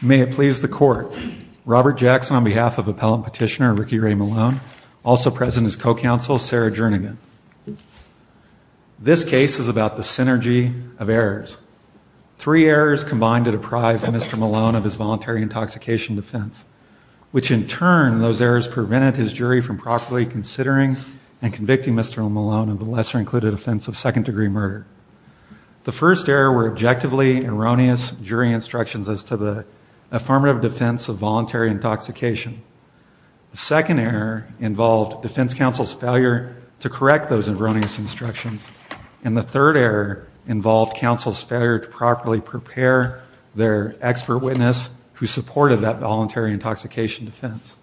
May it please the Court, Robert Jackson on behalf of Appellant Petitioner Ricky Ray Malone, also present as co-counsel, Sarah Jernigan. This case is about the synergy of errors. Three errors combined to deprive Mr. Malone of his voluntary intoxication defense, which in turn those errors prevented his jury from properly considering and convicting Mr. Malone of a lesser included offense of second degree murder. The first error were objectively erroneous jury instructions as to the affirmative defense of voluntary intoxication. The second error involved defense counsel's failure to correct those erroneous instructions and the third error involved counsel's failure to properly prepare their expert witness who supported that voluntary intoxication defense.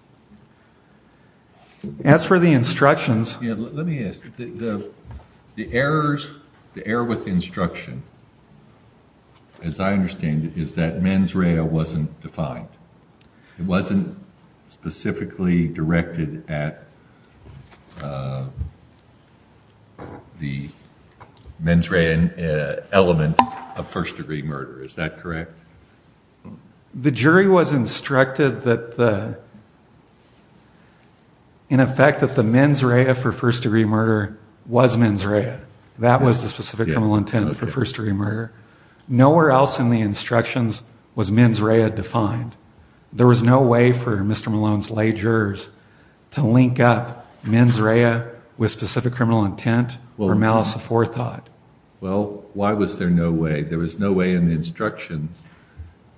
As for the instructions. Let me ask you, the errors, the error with the instruction, as I understand it, is that mens rea wasn't defined. It wasn't specifically directed at the mens rea element of first degree murder, is that correct? The jury was instructed that the, in effect that the mens rea for first degree murder was mens rea. That was the specific intent for first degree murder. Nowhere else in the instructions was mens rea defined. There was no way for Mr. Malone's lay jurors to link up mens rea with specific criminal intent or malice of forethought. Well, why was there no way? There was no way in the instructions.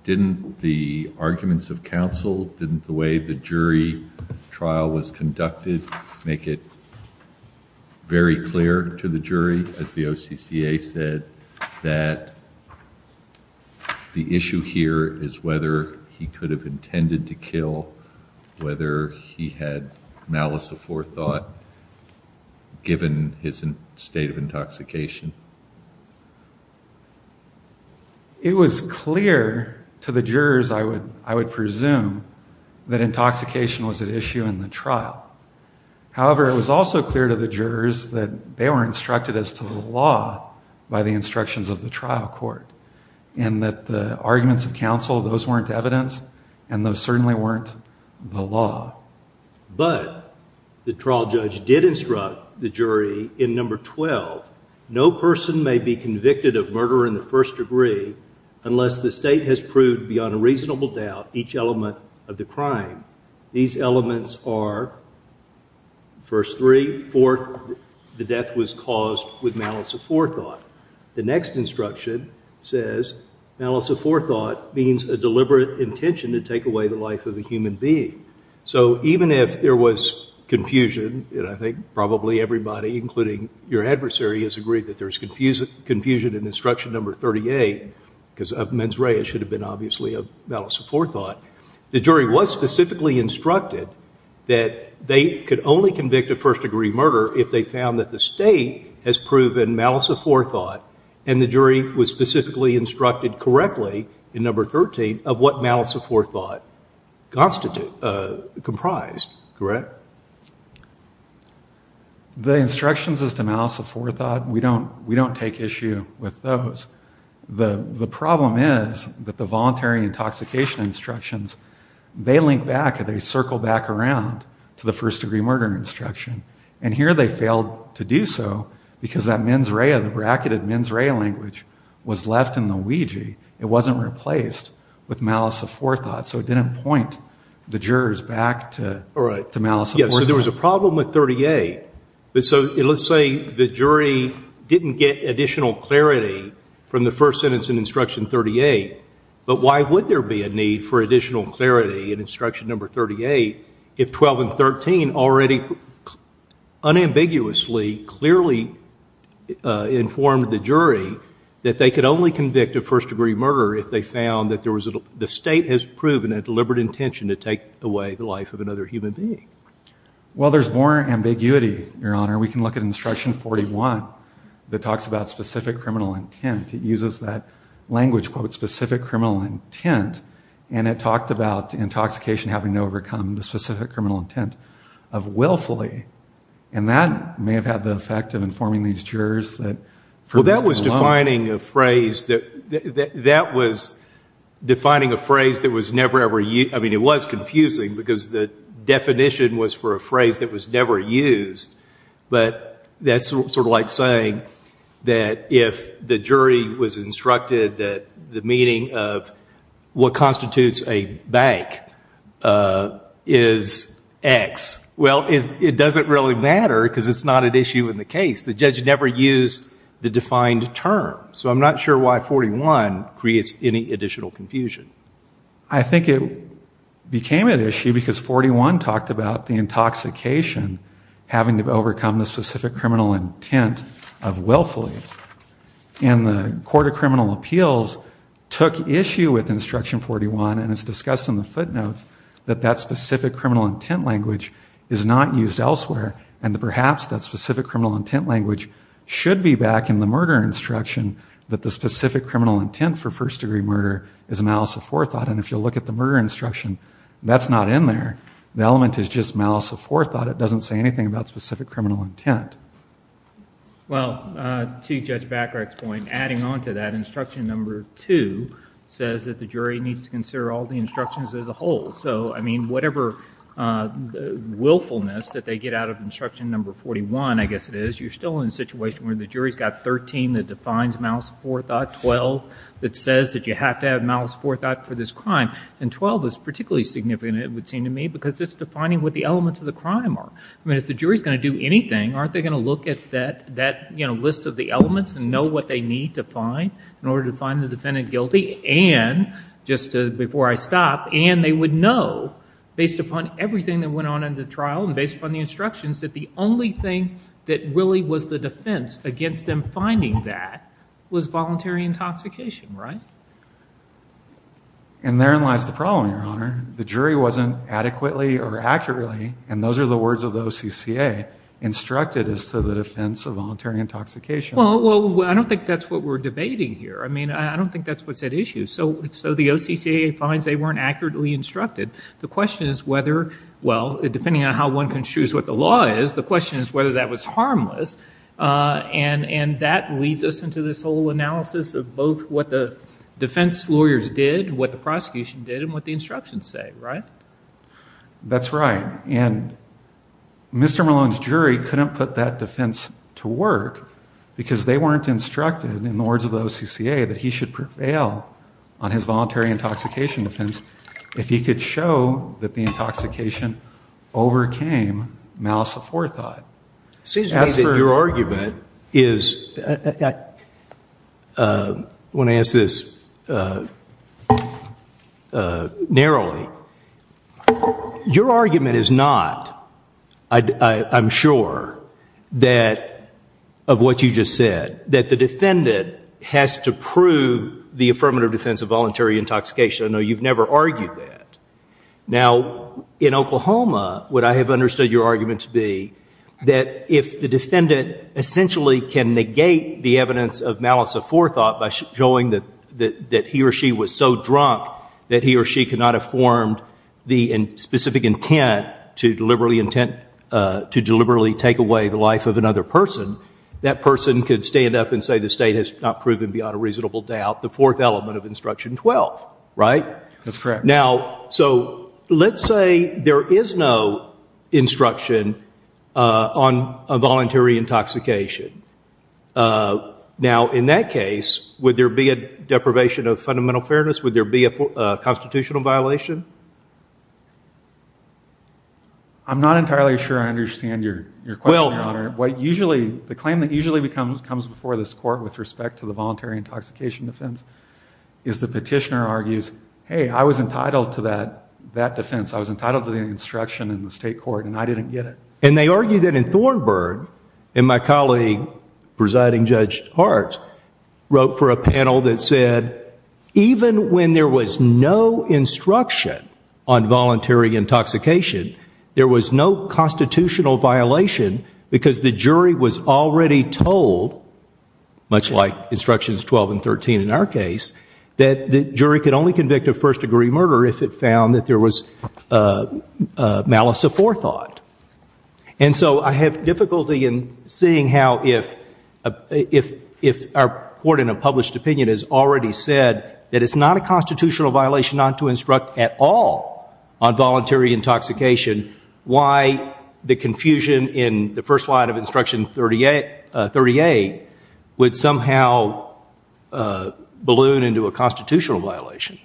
Didn't the arguments of counsel, didn't the way the jury trial was conducted make it very clear to the jury, as the OCCA said, that the issue here is whether he could have intended to kill whether he had malice of forethought given his state of intoxication? It was clear to the jurors, I would presume, that intoxication was an issue in the trial. However, it was also clear to the jurors that they were instructed as to the law by the instructions of the trial court. And that the arguments of counsel, those weren't evidence, and those certainly weren't the law. But the trial judge did instruct the jury in number 12, no person may be convicted of murder in the first degree unless the state has proved beyond a reasonable doubt each element of the crime. These elements are, first three, four, the death was caused with malice of forethought. The next instruction says, malice of forethought means a deliberate intention to take away the life of a human being. So, even if there was confusion, and I think probably everybody, including your adversary, has agreed that there's confusion in instruction number 38, because of mens rea, it should have been obviously of malice of forethought. The jury was specifically instructed that they could only convict of first degree murder if they found that the state has proven malice of forethought, and the jury was specifically instructed correctly in number 13 of what malice of forethought comprised, correct? The instructions as to malice of forethought, we don't take issue with those. The problem is that the voluntary intoxication instructions, they link back, they circle back around to the first degree murder instruction. And here they failed to do so because that mens rea, the bracketed mens rea language was left in the Ouija. It wasn't replaced with malice of forethought. So, it didn't point the jurors back to malice of forethought. Yes, so there was a problem with 38. So, let's say the jury didn't get additional clarity from the first sentence in instruction 38, but why would there be a need for additional clarity in instruction number 38 if 12 and 13 already unambiguously clearly informed the jury that they could only convict of first degree murder if they found that there was a, the state has proven a deliberate intention to take away the life of another human being? Well, there's more ambiguity, Your Honor. We can look at instruction 41 that talks about specific criminal intent. It uses that language called specific criminal intent, and it talked about intoxication having to overcome the specific criminal intent of willfully. And that may have had the effect of informing these jurors that. Well, that was defining a phrase that, that was defining a phrase that was never ever used. I mean, it was confusing because the definition was for a phrase that was never used. But that's sort of like saying that if the jury was instructed that the meaning of what constitutes a bank is X, well, it doesn't really matter because it's not an issue in the case, the judge never used the defined term. So I'm not sure why 41 creates any additional confusion. I think it became an issue because 41 talked about the intoxication having to overcome the specific criminal intent of willfully. And the Court of Criminal Appeals took issue with instruction 41 and it's discussed in the footnotes that that specific criminal intent language is not used elsewhere. And perhaps that specific criminal intent language should be back in the murder instruction that the specific criminal intent for first degree murder is malice of forethought. And if you look at the murder instruction, that's not in there. The element is just malice of forethought. It doesn't say anything about specific criminal intent. Well, to Judge Backhart's point, adding on to that, instruction number 2 says that the jury needs to consider all the instructions as a whole. So, I mean, whatever willfulness that they get out of instruction number 41, I guess it is, you're still in a situation where the jury's got 13 that defines malice of forethought, 12 that says that you have to have malice of forethought for this crime, and 12 is particularly significant it would seem to me because it's defining what the elements of the crime are. I mean, if the jury's going to do anything, aren't they going to look at that, you know, list of the elements and know what they need to find in order to find the defendant guilty? And just before I stop, and they would know based upon everything that went on in the trial and based upon the instructions that the only thing that really was the defense against them finding that was voluntary intoxication, right? And therein lies the problem, Your Honor. The jury wasn't adequately or accurately, and those are the words of the OCCA, instructed as to the defense of voluntary intoxication. Well, I don't think that's what we're debating here. I mean, I don't think that's what's at issue. So, the OCCA finds they weren't accurately instructed. The question is whether, well, depending on how one can choose what the law is, the question is whether that was harmless. And that leads us into this whole analysis of both what the defense lawyers did and what the prosecution did and what the instructions say, right? That's right. And Mr. Merlone's jury couldn't put that defense to work because they weren't instructed in the words of the OCCA that he should prevail on his voluntary intoxication defense if he could show that the intoxication overcame malice aforethought. It seems to me that your argument is, when I ask this narrowly, your argument is not, I'm sure, that, of what you just said, that the defendant has to prove the affirmative defense of voluntary intoxication. I know you've never argued that. Now, in Oklahoma, what I have understood your argument to be, that if the defendant essentially can negate the evidence of malice aforethought by showing that he or she was so drunk that he or she could not have formed the specific intent to deliberately take away the life of another person, that person could stand up and say, the state has not proven beyond a reasonable doubt the fourth element of Instruction 12, right? That's correct. Now, so, let's say there is no instruction on a voluntary intoxication. Now, in that case, would there be a deprivation of fundamental fairness? Would there be a constitutional violation? I'm not entirely sure I understand your question, Your Honor. What usually, the claim that usually comes before this court with respect to the voluntary intoxication defense is the petitioner argues, hey, I was entitled to that defense. I was entitled to the instruction in the state court, and I didn't get it. And they argued it in Thornburg, and my colleague, Presiding Judge Hart, wrote for a panel that said, even when there was no instruction on voluntary intoxication, there was no constitutional violation because the jury was already told, much like Instructions 12 and 13 in our case, that the jury could only convict of first-degree murder if it found that there was malice aforethought. And so, I have difficulty in seeing how if our court in a published opinion has already said that it's not a constitutional violation not to instruct at all on voluntary intoxication, why the confusion in the first line of Instruction 38 would somehow balloon into a constitutional violation.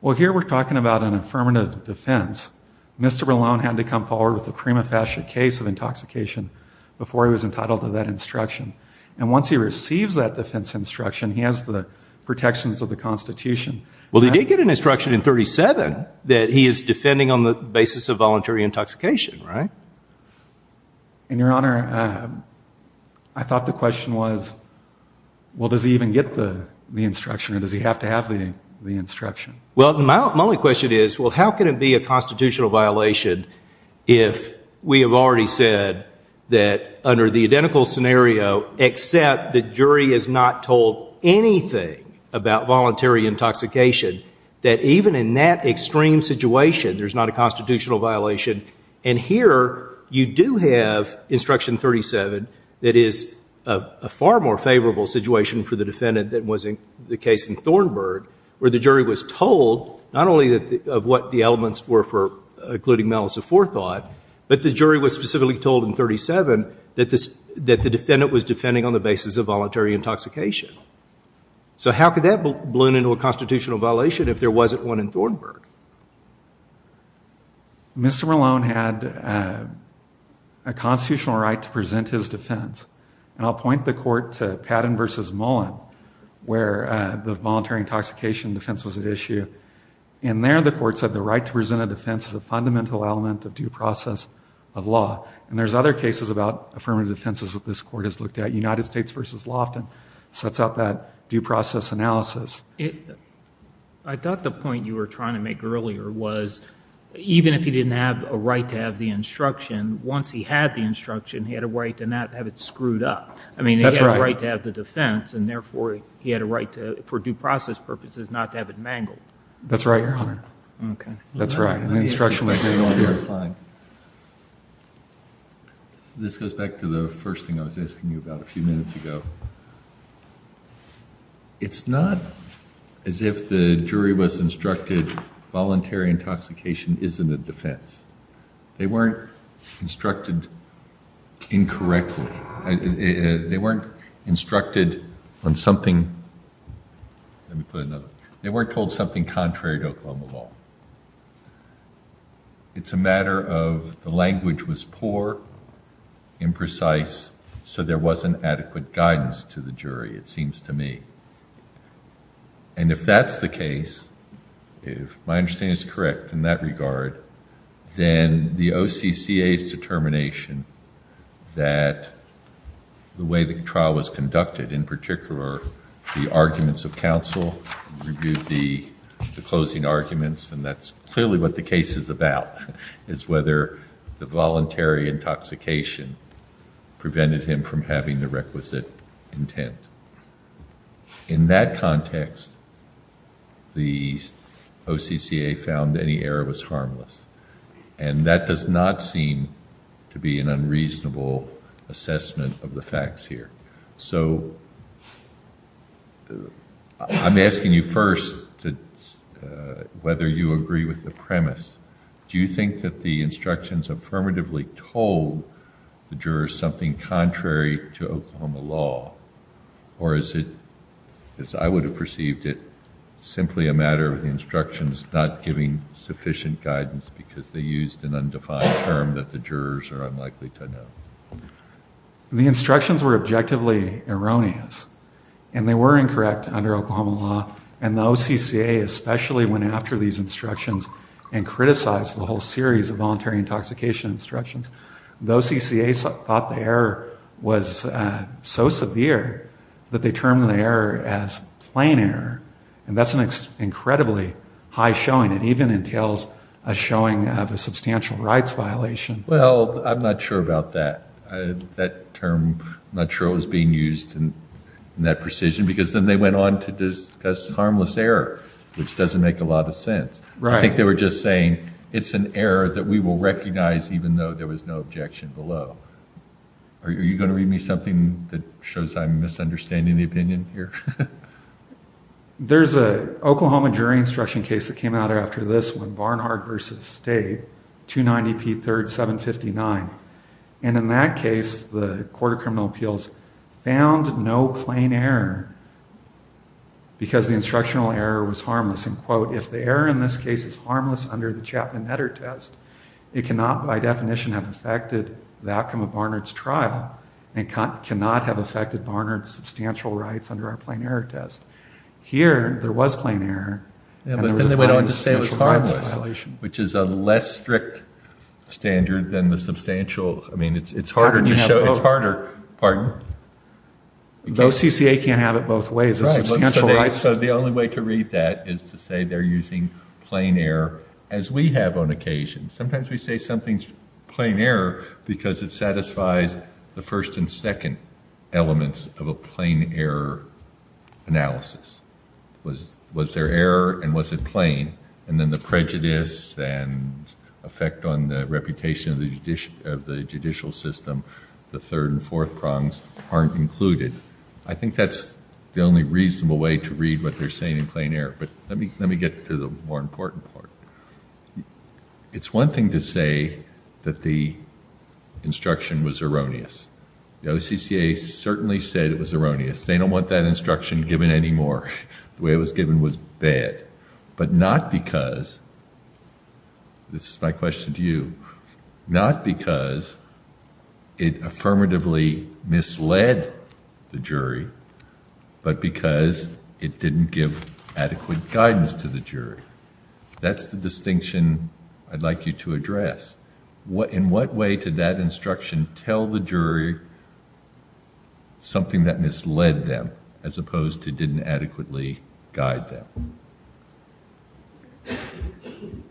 Well, here we're talking about an affirmative defense. Mr. Berlant had to come forward with a prima facie case of intoxication before he was entitled to that instruction. And once he receives that defense instruction, he has the protections of the Constitution. Well, he did get an instruction in 37 that he is defending on the basis of voluntary intoxication, right? And, Your Honor, I thought the question was, well, does he even get the instruction or does he have to have the instruction? Well, my only question is, well, how could it be a constitutional violation if we have already said that under the identical scenario, except the jury has not told anything about voluntary intoxication, that even in that extreme situation, there's not a constitutional violation. And here, you do have Instruction 37 that is a far more favorable situation for the defendant than was in the case in Thornburg, where the jury was told not only of what the elements were for including malice aforethought, but the jury was specifically told in 37 that the defendant was defending on the basis of voluntary intoxication. So how could that have blown into a constitutional violation if there wasn't one in Thornburg? Mr. Malone had a constitutional right to present his defense. And I'll point the court to Patton v. Mullin, where the voluntary intoxication defense was at issue. In there, the court said the right to present a defense is a fundamental element of due process of law. And there's other cases about affirmative defenses that this court has looked at. United States v. Loftin sets out that due process analysis. I thought the point you were trying to make earlier was even if he didn't have a right to have the instruction, once he had the instruction, he had a right to not have it screwed up. I mean, he had a right to have the defense, and therefore, he had a right for due process purposes not to have it mangled. That's right, Your Honor. Okay. That's right. My instruction was here. This goes back to the first thing I was asking you about a few minutes ago. It's not as if the jury was instructed voluntary intoxication isn't a defense. They weren't instructed incorrectly. Let me put another. It's a matter of the language was poor, imprecise, so there wasn't adequate guidance to the jury, it seems to me. And if that's the case, if my understanding is correct in that regard, then the OCCA's determination that the way the trial was conducted, in particular, the arguments of counsel, the closing arguments, and that's clearly what the case is about is whether the voluntary intoxication prevented him from having the requisite intent. In that context, the OCCA found any error was harmless, and that does not seem to be an unreasonable assessment of the facts here. So I'm asking you first whether you agree with the premise. Do you think that the instructions affirmatively told the jurors something contrary to Oklahoma law, or is it, as I would have perceived it, simply a matter of the instructions not giving sufficient guidance because they used an undefined term that the jurors are unlikely to know? The instructions were objectively erroneous, and they were incorrect under Oklahoma law, and the OCCA, especially when after these instructions and criticized the whole series of voluntary intoxication instructions, the OCCA thought the error was so severe that they termed the error as plain error, and that's an incredibly high showing. It even entails a showing of a substantial rights violation. Well, I'm not sure about that. That term, I'm not sure it was being used in that precision, because then they went on to discuss harmless error, which doesn't make a lot of sense. I think they were just saying it's an error that we will recognize even though there was no objection below. Are you going to read me something that shows I'm misunderstanding the opinion here? There's an Oklahoma jury instruction case that came out after this, when Barnard versus State, 290P3759, and in that case, the Court of Criminal Appeals found no plain error because the instructional error was harmless. And, quote, if the error in this case is harmless under the Chapman-Edder test, it cannot by definition have affected the outcome of Barnard's trial, and cannot have affected Barnard's substantial rights under our plain error test. Here, there was plain error. Yeah, but then they went on to say it was harmless, which is a less strict standard than the substantial. I mean, it's harder to show. It's harder. Pardon? Though CCA can't have it both ways. Right. So, the only way to read that is to say they're using plain error, as we have on occasion. Sometimes we say something's plain error because it satisfies the first and second elements of a plain error analysis. Was there error and was it plain? And then the prejudice and effect on the reputation of the judicial system, the third and fourth prongs aren't included. I think that's the only reasonable way to read what they're saying in plain error. But let me get to the more important part. It's one thing to say that the instruction was erroneous. The OCCA certainly said it was erroneous. They don't want that instruction given anymore. The way it was given was bad, but not because, this is my question to you, not because it affirmatively misled the jury, but because it didn't give adequate guidance to the jury. That's the distinction I'd like you to address. In what way did that instruction tell the jury something that misled them, as opposed to didn't adequately guide them?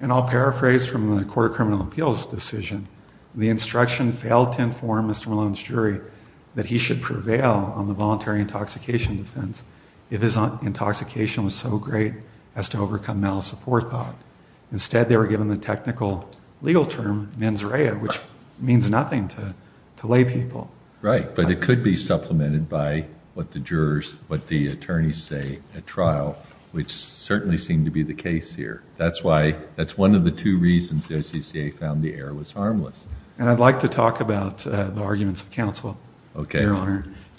And I'll paraphrase from the Court of Criminal Appeals decision. The instruction failed to inform Mr. Malone's jury that he should prevail on the voluntary intoxication defense if his intoxication was so great as to overcome mental support thought. Instead, they were given the technical legal term, mens rea, which means nothing to lay people. Right, but it could be supplemented by what the jurors, what the attorneys say at trial, which certainly seemed to be the case here. That's why, that's one of the two reasons the OCCA found the error was harmless. And I'd like to talk about the arguments of counsel. Okay.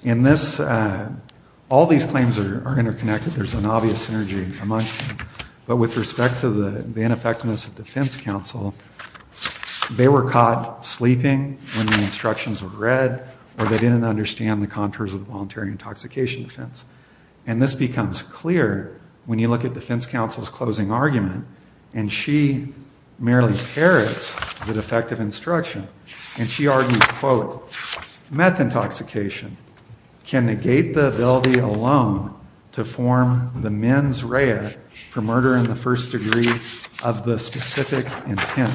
In this, all these claims are interconnected. There's an obvious synergy amongst them. But with respect to the ineffectiveness of defense counsel, they were caught sleeping when the instructions were read, or they didn't understand the contours of voluntary intoxication defense. And this becomes clear when you look at defense counsel's closing argument. And she merely parrots the defective instruction. And she argued, quote, meth intoxication can negate the ability alone to form the mens rea for murder in the first degree of the specific intent.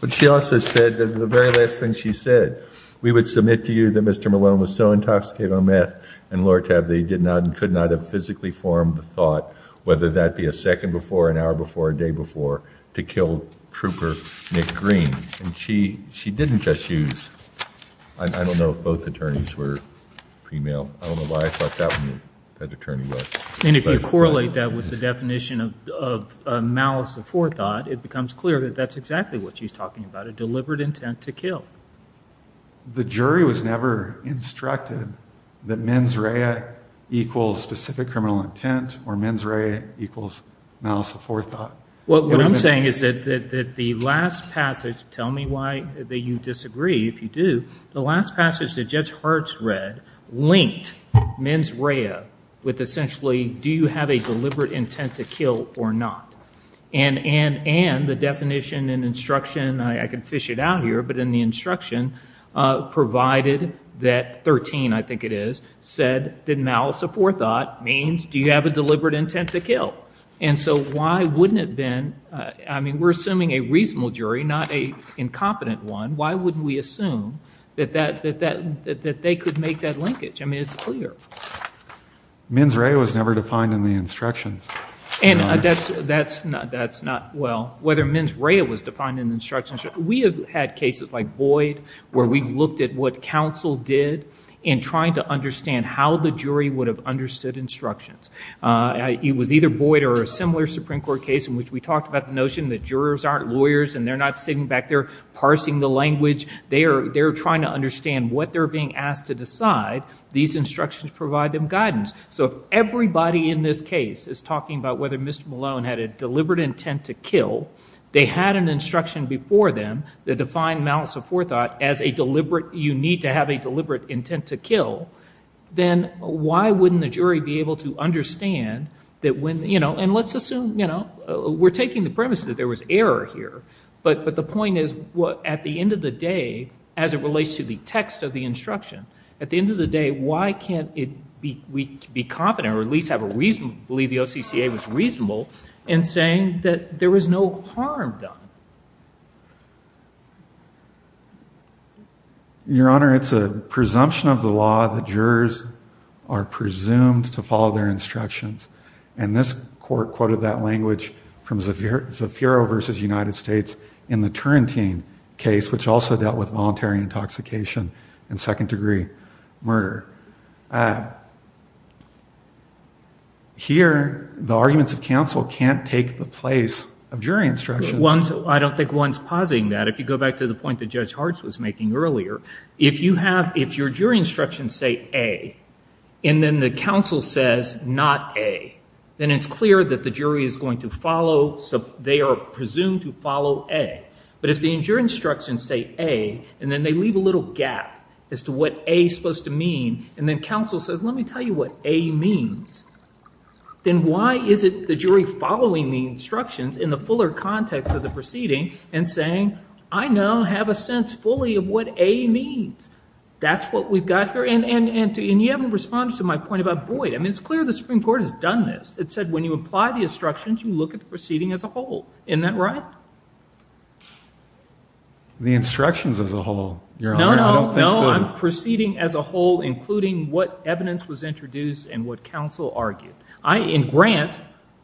But she also said that the very last thing she said, we would submit to you that Mr. Malone was so intoxicated on meth and Lord have they, did not, could not have physically formed the thought, whether that be a second before, an hour before, a day before, to kill trooper Nick Green. And she didn't just use, I don't know if both attorneys were female. I don't know why I thought that one had the term male. And if you correlate that with the definition of malice of forethought, it becomes clear that that's exactly what she's talking about, a deliberate intent to kill. The jury was never instructed that mens rea equals specific criminal intent or mens rea equals malice of forethought. What I'm saying is that the last passage, tell me why you disagree, if you do, the last passage that Judge Hartz read linked mens rea with essentially, do you have a deliberate intent to kill or not? And the definition and instruction, I could fish it out here, but in the instruction provided that 13, I think it is, said that malice of forethought means, do you have a deliberate intent to kill? And so why wouldn't it then, I mean, we're assuming a reasonable jury, not an incompetent one. Why would we assume that they could make that linkage? I mean, it's clear. Mens rea was never defined in the instructions. And that's not, well, whether mens rea was defined in the instructions. We have had cases like Boyd where we've looked at what counsel did in trying to understand how the jury would have understood instructions. It was either Boyd or a similar Supreme Court case in which we talked about the notion that jurors aren't lawyers and they're not sitting back there parsing the language. They're trying to understand what they're being asked to decide. These instructions provide them guidance. So everybody in this case is talking about whether Mr. Malone had a deliberate intent to kill. They had an instruction before them that defined malice of forethought as a deliberate, you need to have a deliberate intent to kill. Then why wouldn't the jury be able to understand that when, you know, and let's assume, you know, we're taking the premise that there was error here. But the point is, at the end of the day, as it relates to the text of the instruction, at the end of the day, why can't we be confident or at least have a reason to believe the OCCA was reasonable in saying that there was no harm done? Your Honor, it's a presumption of the law that jurors are presumed to follow their instructions. And this court quoted that language from Zafiro versus United States in the Turrentine case, which also dealt with voluntary intoxication and second degree murder. Here, the arguments of counsel can't take the place of jury instructions. One, I don't think one's positing that. If you go back to the point that Judge Hartz was making earlier, if you have, if your jury instructions say A, and then the counsel says not A, then it's clear that the jury is going to follow, they are presumed to follow A. But if the jury instructions say A, and then they leave a little gap as to what A is supposed to mean, and then counsel says, let me tell you what A means, then why is it the jury following the instructions in the fuller context of the proceeding and saying, I now have a sense fully of what A means? That's what we've got here. And you haven't responded to my point about, boy, I mean, it's clear the Supreme Court has done this. It said when you apply the instructions, you look at the proceeding as a whole. Isn't that right? The instructions as a whole. No, no, no, proceeding as a whole, including what evidence was introduced and what counsel argued. I, in Grant,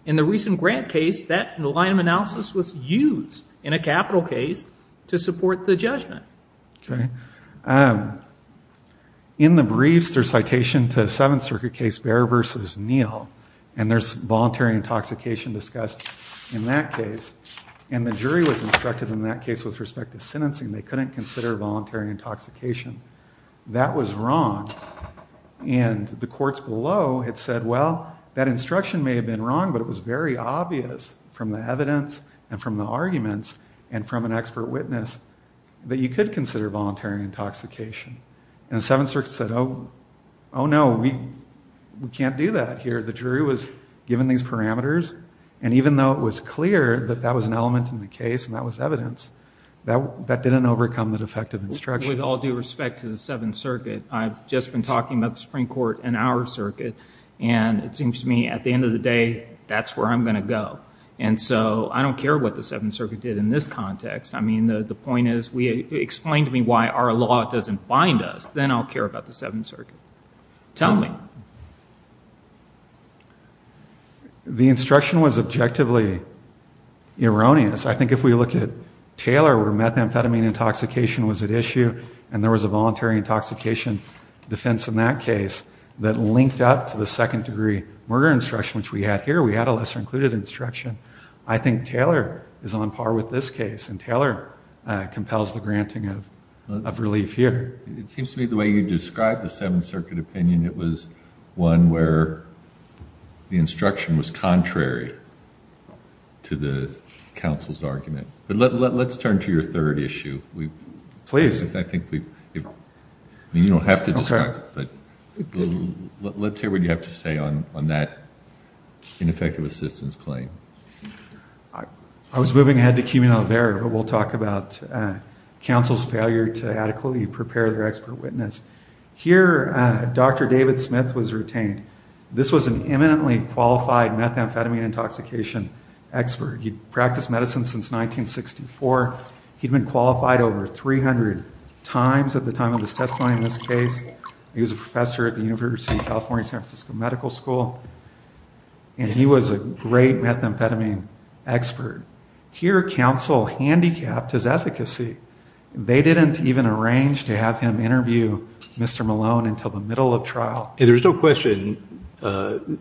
in the recent Grant case, that liam analysis was used in a capital case to support the judgment. Okay. In the briefs, there's citation to Seventh Circuit case Bair versus Neal, and there's voluntary intoxication discussed in that case. And the jury was instructed in that case with respect to sentencing. They couldn't consider voluntary intoxication. That was wrong. And the courts below had said, well, that instruction may have been wrong, but it was very obvious from the evidence and from the arguments and from an expert witness that you could consider voluntary intoxication. And the Seventh Circuit said, oh, no, we can't do that here. The jury was given these parameters, and even though it was clear that that was an element in the case and that was evidence, that didn't overcome the defective instruction. With all due respect to the Seventh Circuit, I've just been talking about the Supreme Court and our circuit, and it seems to me at the end of the day, that's where I'm going to go. I mean, the point is, explain to me why our law doesn't bind us. Then I'll care about the Seventh Circuit. Tell me. The instruction was objectively erroneous. I think if we look at Taylor, where methamphetamine intoxication was at issue and there was a voluntary intoxication defense in that case that linked up to the second-degree murder instruction, which we had here. We had a less-included instruction. I think Taylor is on par with this case. And Taylor compels the granting of relief here. It seems to me the way you described the Seventh Circuit opinion, it was one where the instruction was contrary to the counsel's argument. But let's turn to your third issue. We've... Please. In fact, I think we... You don't have to describe it, but let's hear what you have to say on that ineffective assistance claim. I was moving ahead to Kimmel and Albert, but we'll talk about counsel's failure to adequately prepare their expert witness. Here, Dr. David Smith was retained. This was an eminently qualified methamphetamine intoxication expert. He practiced medicine since 1964. He'd been qualified over 300 times at the time of his testimony in this case. He was a professor at the University of California, San Francisco Medical School. And he was a great methamphetamine expert. Here, counsel handicapped his efficacy. They didn't even arrange to have him interview Mr. Malone until the middle of trial. There's no question that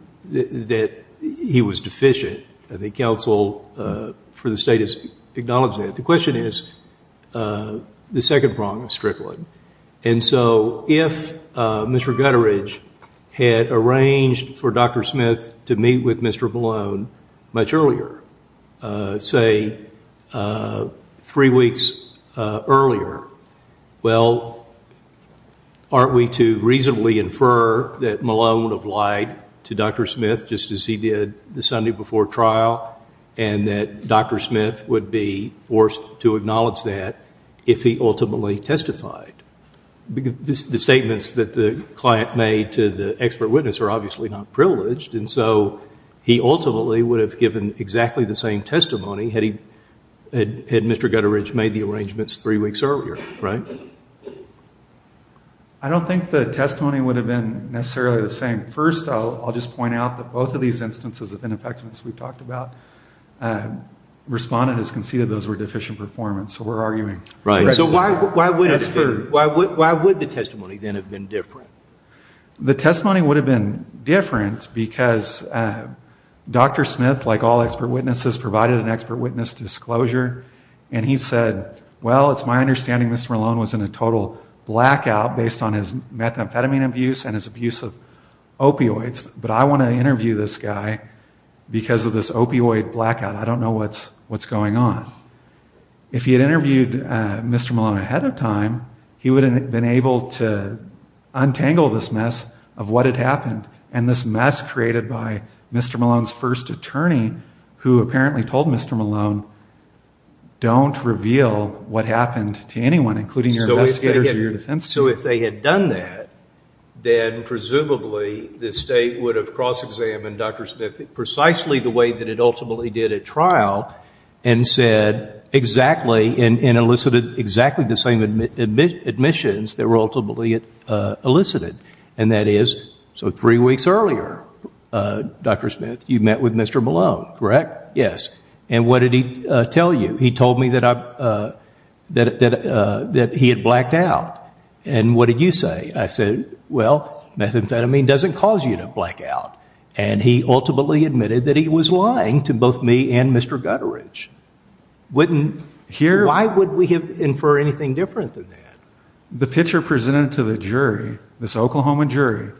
he was deficient. I think counsel for the state has acknowledged that. The question is the second problem, Strickland. And so if Mr. Gutteridge had arranged for Dr. Smith to meet with Mr. Malone much earlier, say three weeks earlier, well, aren't we to reasonably infer that Malone would have lied to Dr. Smith just as he did the Sunday before trial and that Dr. Smith would be forced to acknowledge that if he ultimately testified? The statements that the client made to the expert witness are obviously not privileged. And so he ultimately would have given exactly the same testimony had he, had Mr. Gutteridge made the arrangements three weeks earlier, right? I don't think the testimony would have been necessarily the same. First, I'll just point out that both of these instances of ineffectiveness we've talked about. Respondent has conceded those were deficient performance. So we're arguing. Right. So why would the testimony then have been different? The testimony would have been different because Dr. Smith, like all expert witnesses, provided an expert witness disclosure. And he said, well, it's my understanding Mr. Malone was in a total blackout based on his methamphetamine abuse and his abuse of opioids. But I want to interview this guy because of this opioid blackout. I don't know what's going on. If he had interviewed Mr. Malone ahead of time, he would have been able to untangle this mess of what had happened. And this mess created by Mr. Malone's first attorney, who apparently told Mr. Malone don't reveal what happened to anyone including your investigators or your defense counsel. So if they had done that, then presumably the state would have cross-examined Dr. Smith precisely the way that it ultimately did at trial and said exactly and elicited exactly the same admissions that were ultimately elicited. And that is, so three weeks earlier, Dr. Smith, you met with Mr. Malone, correct? Yes. And what did he tell you? He told me that he had blacked out. And what did you say? I said, well, methamphetamine doesn't cause you to blackout. And he ultimately admitted that he was lying to both me and Mr. Gutteridge. Why would we infer anything different than that? The picture presented to the jury, this Oklahoma jury,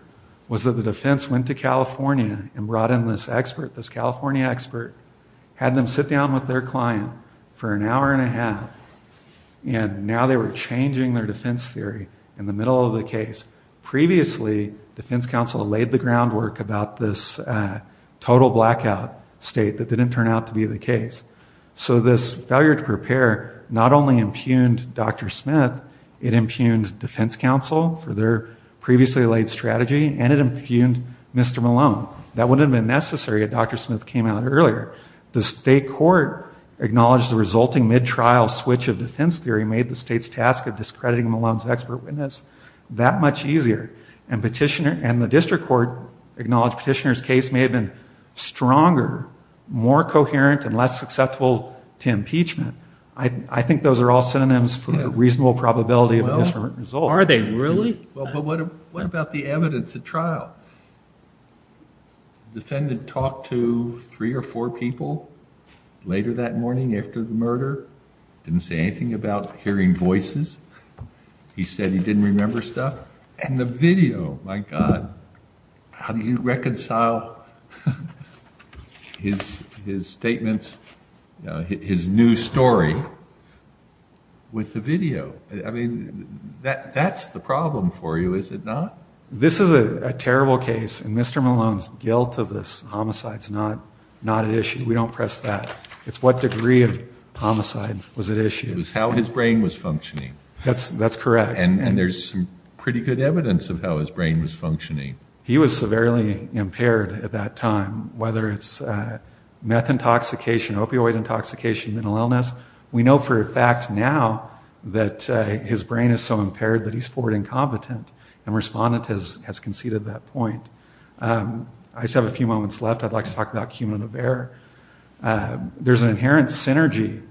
was that the defense went to California and brought in this expert, this California expert, had them sit down with their client for an hour and a half. And now they were changing their defense theory in the middle of the case. Previously, defense counsel had laid the groundwork about this total blackout state that didn't turn out to be the case. So this failure to prepare not only impugned Dr. Smith, it impugned defense counsel for their previously laid strategy, and it impugned Mr. Malone. That wouldn't have been necessary if Dr. Smith came out earlier. The state court acknowledged the resulting mid-trial switch of defense theory made the state's task of discrediting Malone's expert witness. That much easier. And petitioner, and the district court acknowledged petitioner's case may have been stronger, more coherent, and less successful to impeachment. I think those are all synonyms for the reasonable probability of a different result. Are they really? Well, but what about the evidence at trial? Defendant talked to three or four people later that morning after the murder. Didn't say anything about hearing voices. He said he didn't remember stuff. And the video, my God. How do you reconcile his statements, his new story, with the video? I mean, that's the problem for you, is it not? This is a terrible case, and Mr. Malone's guilt of this homicide is not at issue. We don't press that. It's what degree of homicide was at issue. It was how his brain was functioning. That's correct. And there's some pretty good evidence of how his brain was functioning. He was severely impaired at that time, whether it's meth intoxication, opioid intoxication, mental illness. We know for a fact now that his brain is so impaired that he's forward incompetent, and respondent has conceded that point. I just have a few moments left. I'd like to talk about human of error. There's an inherent synergy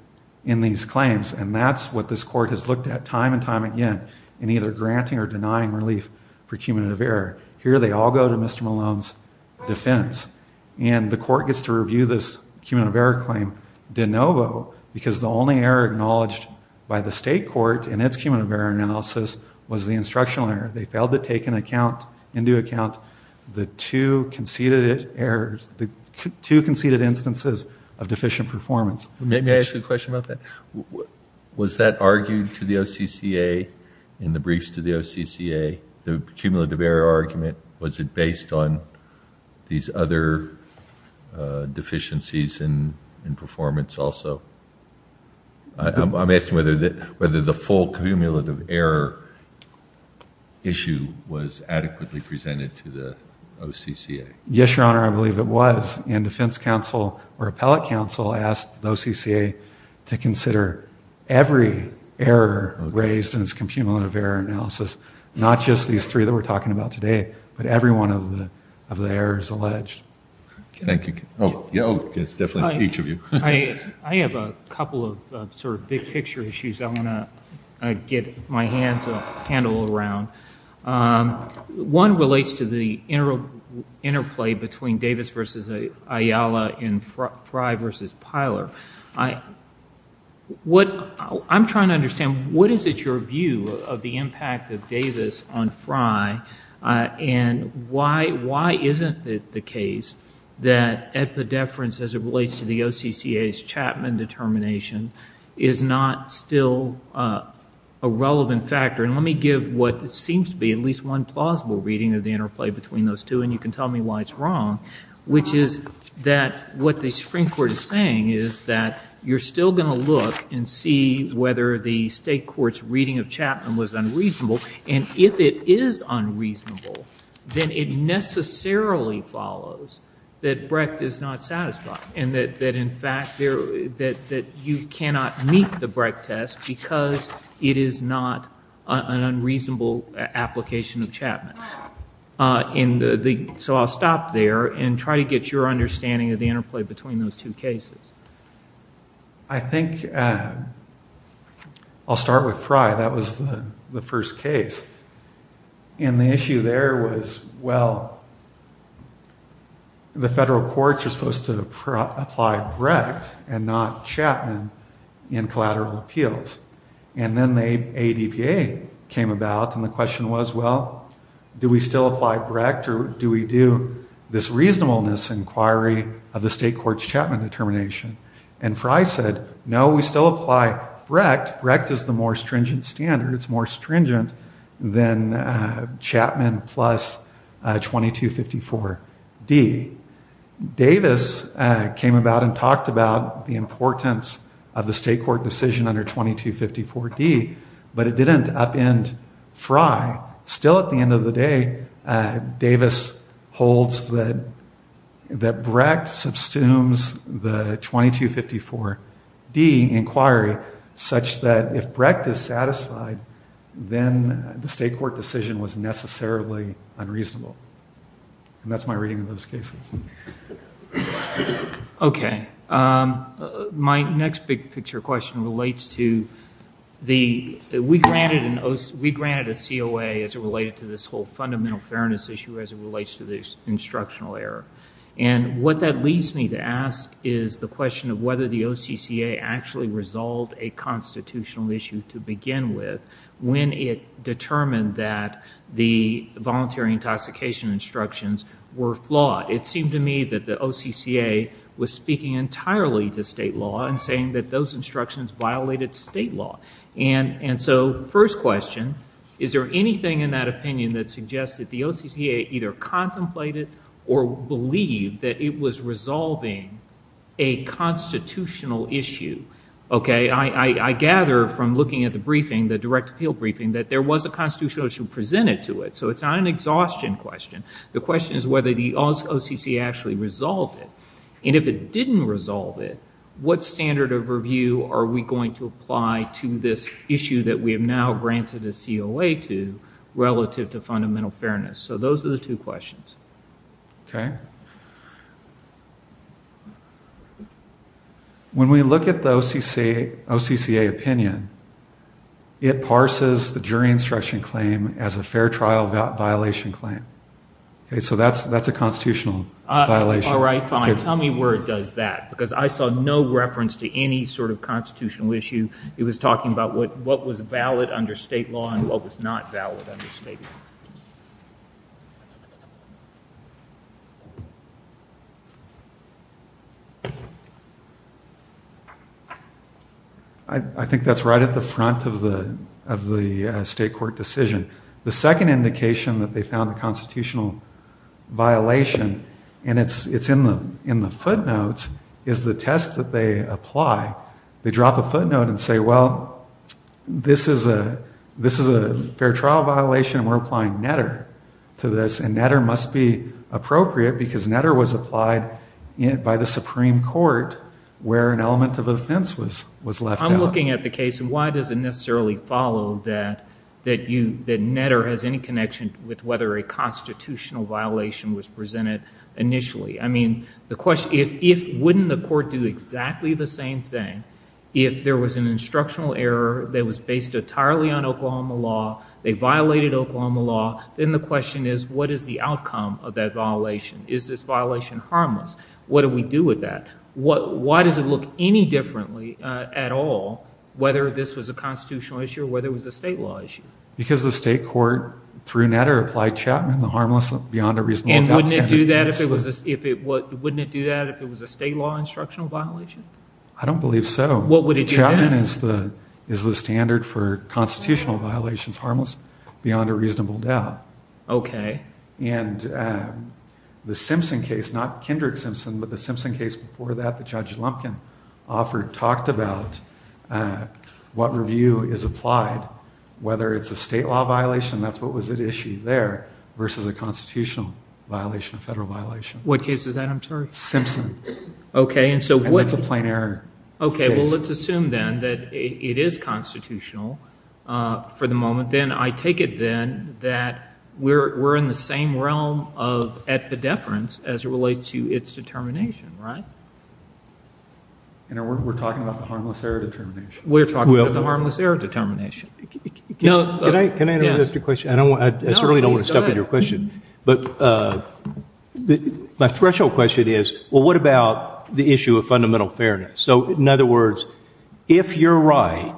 in these claims, and that's what this court has looked at time and time again in either granting or denying relief for human of error. Here they all go to Mr. Malone's defense. And the court gets to review this human of error claim de novo, because the only error acknowledged by the state court in its human of error analysis was the instructional error. They failed to take into account the two conceded errors, the two conceded instances of deficient performance. Let me ask you a question about that. Was that argued to the OCCA in the briefs to the OCCA, the cumulative error argument? Was it based on these other deficiencies in performance also? I'm asking whether the full cumulative error issue was adequately presented to the OCCA. Yes, Your Honor, I believe it was. And defense counsel or appellate counsel asked the OCCA to consider every error raised in this cumulative error analysis, not just these three that we're talking about today, but every one of the errors alleged. Thank you. Oh, yes, definitely each of you. I have a couple of sort of big picture issues I want to get my hand a little round. One relates to the interplay between Davis versus Ayala and Frye versus Pyler. What I'm trying to understand, what is it your view of the impact of Davis on Frye and why isn't it the case that at the deference as it relates to the OCCA's Chapman determination is not still a relevant factor? And let me give what seems to be at least one plausible reading of the interplay between those two and you can tell me why it's wrong, which is that what the Supreme Court is saying is that you're still going to look and see whether the state court's reading of Chapman was unreasonable. And if it is unreasonable, then it necessarily follows that Brecht is not satisfied. And that in fact you cannot meet the Brecht test because it is not an unreasonable application of Chapman. And so I'll stop there and try to get your understanding of the interplay between those two cases. I think I'll start with Frye. That was the first case. And the issue there was, well, the federal court is supposed to apply Brecht and not Chapman in collateral appeals. And then the ADPA came about and the question was, well, do we still apply Brecht or do we do this reasonableness inquiry of the state court's Chapman determination? And Frye said, no, we still apply Brecht. Brecht is the more stringent standard. It's more stringent than Chapman plus 2254D. Davis came about and talked about the importance of the state court decision under 2254D, but it didn't upend Frye. Still at the end of the day, Davis holds that Brecht subsumes the 2254D inquiry such that if Brecht is satisfied, then the state court decision was necessarily unreasonable. And that's my reading of those cases. Okay. My next big picture question relates to the, we granted a COA as it related to this whole fundamental fairness issue as it relates to this instructional error. And what that leads me to ask is the question of whether the OCCA actually resolved a constitutional issue to begin with when it determined that the voluntary intoxication instructions were flawed. It seemed to me that the OCCA was speaking entirely to state law and saying that those instructions violated state law. And so first question, is there anything in that opinion that suggests that the OCCA either contemplated or believed that it was resolving a constitutional issue? Okay. I gather from looking at the briefing, the direct appeal briefing, that there was a constitutional issue presented to it. So it's not an exhaustion question. The question is whether the OCCA actually resolved it. And if it didn't resolve it, what standard of review are we going to apply to this issue that we have now granted a COA to relative to fundamental fairness? So those are the two questions. Okay. When we look at the OCCA opinion, it parses the jury instruction claim as a fair trial violation claim. Okay. So that's a constitutional violation. All right. Fine. Tell me where it does that. Because I saw no reference to any sort of constitutional issue. He was talking about what was valid under state law and what was not valid under state law. I think that's right at the front of the state court decision. The second indication that they found a constitutional violation, and it's in the footnotes, is the test that they apply. They drop a footnote and say, well, this is a fair trial violation. We're applying NEDR to this. And NEDR must be appropriate because NEDR was applied by the Supreme Court where an element of offense was left out. I'm looking at the case. Why does it necessarily follow that NEDR has any connection with whether a constitutional violation was presented initially? I mean, the question is, if wouldn't the court do exactly the same thing if there was an instructional error that was based entirely on Oklahoma law, they violated Oklahoma law, then the question is, what is the outcome of that violation? Is this violation harmless? What do we do with that? Why does it look any differently at all whether this was a constitutional issue or whether it was a state law issue? Because the state court, through NEDR, applied Chapman, the harmless beyond a reasonable doubt. And wouldn't it do that if it was a state law instructional violation? I don't believe so. What would it do? Chapman is the standard for constitutional violations, harmless beyond a reasonable doubt. Okay. And the Simpson case, not Kindred Simpson, but the Simpson case before that that Judge Lumpkin offered talked about what review is applied, whether it's a state law violation, that's what was at issue there, versus a constitutional violation, a federal violation. What case is that, I'm sorry? Simpson. Okay. And so what? And that's a plain error. Okay. Well, let's assume then that it is constitutional for the moment. Then I take it then that we're in the same realm of at the deference as it relates to its determination, right? You know, we're talking about the harmless error determination. We're talking about the harmless error determination. Can I interrupt just a question? I certainly don't want to stuff in your question. But my threshold question is, well, what about the issue of fundamental fairness? So in other words, if you're right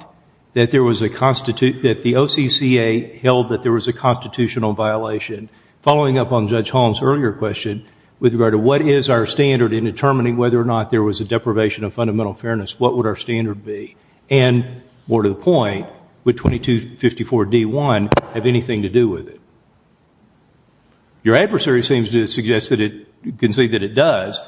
that there was a constitute, that the OCCA held that there was a constitutional violation following up on Judge Holland's earlier question with regard to what is our standard in determining whether or not there was a deprivation of fundamental fairness, what would our standard be? And more to the point, would 2254 D1 have anything to do with it? Your adversary seems to suggest that it can say that it does.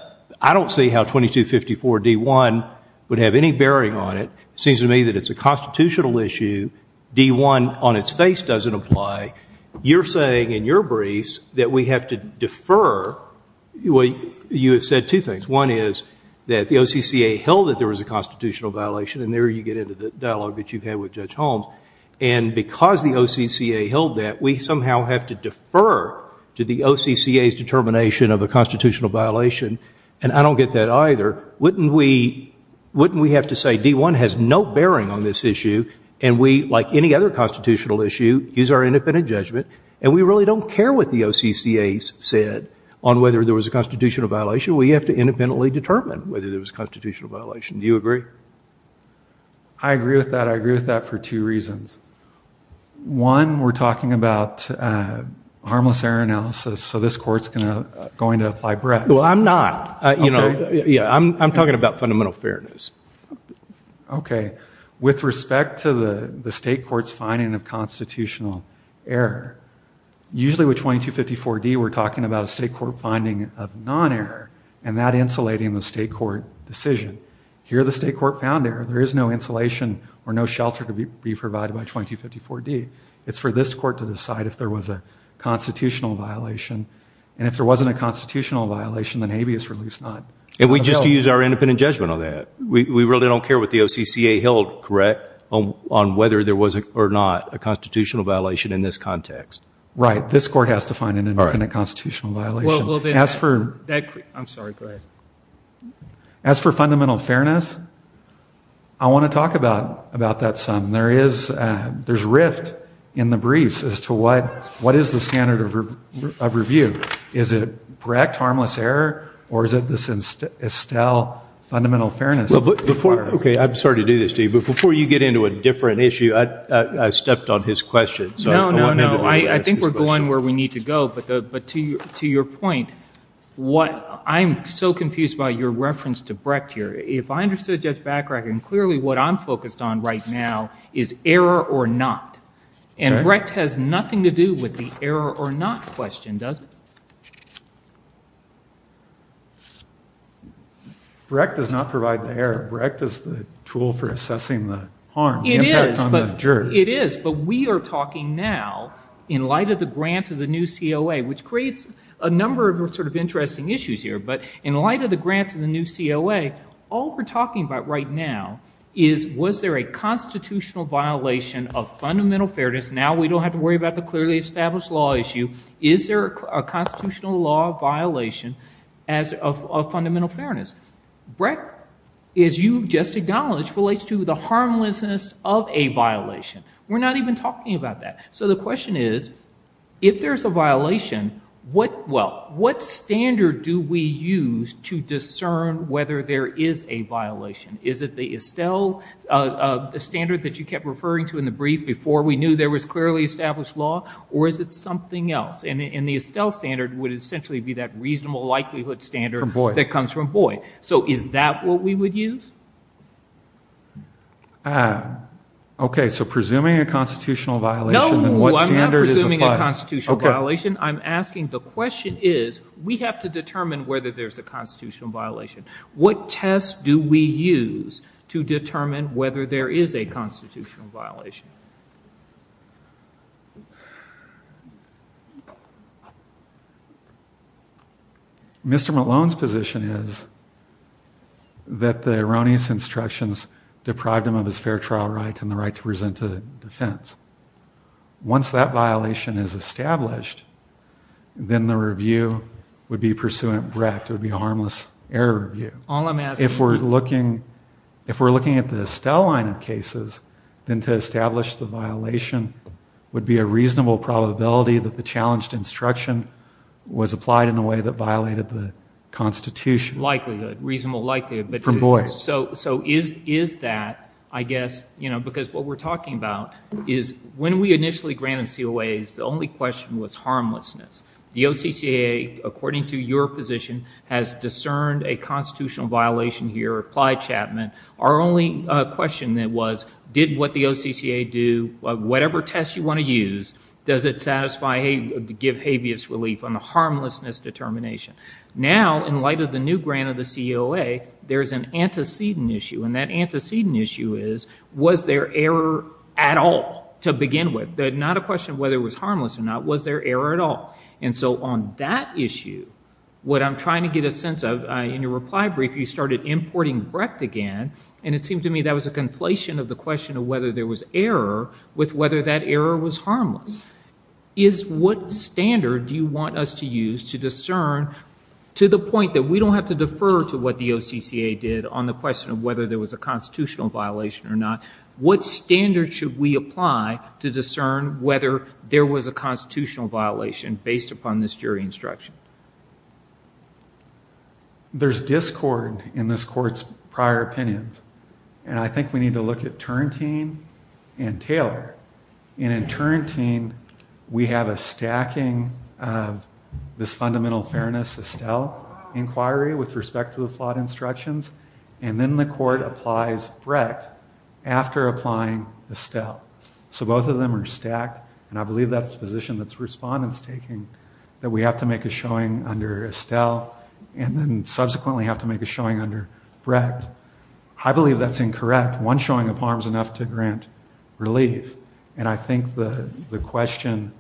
I don't see how 2254 D1 would have any bearing on it. Seems to me that it's a constitutional issue. D1 on its face doesn't apply. You're saying in your briefs that we have to defer. Well, you have said two things. One is that the OCCA held that there was a constitutional violation, and there you get into the dialogue that you've had with Judge Holmes. And because the OCCA held that, we somehow have to defer to the OCCA's determination of a constitutional violation, and I don't get that either. Wouldn't we have to say D1 has no bearing on this issue, and we, like any other constitutional issue, use our independent judgment, and we really don't care what the OCCA said on whether there was a constitutional violation. We have to independently determine whether there was a constitutional violation. Do you agree? I agree with that. I agree with that for two reasons. One, we're talking about harmless error analysis, so this court's going to fly bread. Well, I'm not. You know, I'm talking about fundamental fairness. Okay. With respect to the state court's finding of constitutional error, usually with 2254 D, we're talking about a state court finding of non-error, and that insulating the state court decision. Here, the state court found error. There is no insulation or no shelter to be provided by 2254 D. It's for this court to decide if there was a constitutional violation, and if there wasn't a constitutional violation, then maybe it's at least not. And we just use our independent judgment on that. We really don't care what the OCCA held, correct, on whether there was or not a constitutional violation in this context. Right. This court has to find an independent constitutional violation. Well, then, I'm sorry. Go ahead. As for fundamental fairness, I want to talk about that some. There is rift in the briefs as to what is the standard of review. Is it correct, harmless error, or is it this Estelle fundamental fairness? Okay. I'm sorry to do this to you, but before you get into a different issue, I stepped on his question. No, no, no. I think we're going where we need to go, but to your point, what I'm so confused by your reference to Brecht here. If I understood Judge Bachrach, and clearly what I'm focused on right now is error or not. And Brecht has nothing to do with the error or not question, does it? Brecht does not provide the error. Brecht is the tool for assessing the harm. It is, but we are talking now, in light of the grant of the new COA, which creates a number of sort of interesting issues here, but in light of the grant of the new COA, all we're talking about right now is, was there a constitutional violation of fundamental fairness? Now we don't have to worry about the clearly established law issue. Is there a constitutional law violation of fundamental fairness? Brecht, as you just acknowledged, relates to the harmlessness of a violation. We're not even talking about that. So the question is, if there's a violation, what standard do we use to discern whether there is a violation? Is it the Estelle standard that you kept referring to in the brief, before we knew there was clearly established law, or is it something else? And the Estelle standard would essentially be that reasonable likelihood standard that comes from Boyd. So is that what we would use? Okay, so presuming a constitutional violation, then what standard is applied? No, I'm not presuming a constitutional violation. I'm asking, the question is, we have to determine whether there's a constitutional violation. What test do we use to determine whether there is a constitutional violation? Mr. Malone's position is that the erroneous instructions deprive him of his fair trial rights and the right to present a defense. Once that violation is established, then the review would be pursuant Brecht. It would be a harmless error review. If we're looking at the Estelle line of cases, then to establish the violation would be a reasonable probability that the challenged instruction was applied in a way that violated the Constitution. Likelihood, reasonable likelihood. From Boyd. So is that, I guess, you know, because what we're talking about is, when we initially granted COAs, the only question was harmlessness. The OCCAA, according to your position, has discerned a constitutional violation here, our only question then was, did what the OCCAA do, whatever test you want to use, does it satisfy, give habeas relief on the harmlessness determination? Now, in light of the new grant of the COA, there's an antecedent issue, and that antecedent issue is, was there error at all to begin with? Not a question of whether it was harmless or not, was there error at all? And so on that issue, what I'm trying to get a sense of, in your reply brief, you started importing breadth again, and it seemed to me that was a conflation of the question of whether there was error with whether that error was harmless. Is what standard do you want us to use to discern, to the point that we don't have to defer to what the OCCAA did on the question of whether there was a constitutional violation or not, what standard should we apply to discern whether there was a constitutional violation based upon this jury instruction? There's discord in this court's prior opinions, and I think we need to look at Turrentine and Taylor. And in Turrentine, we have a stacking of this fundamental fairness Estelle inquiry with respect to the flawed instructions, and then the court applies breadth after applying Estelle. So both of them are stacked, and I believe that's a position that's respondents taking, that we have to make a showing under Estelle, and then subsequently have to make a showing under breadth. I believe that's incorrect. One showing of harm is enough to grant relief, and I think the question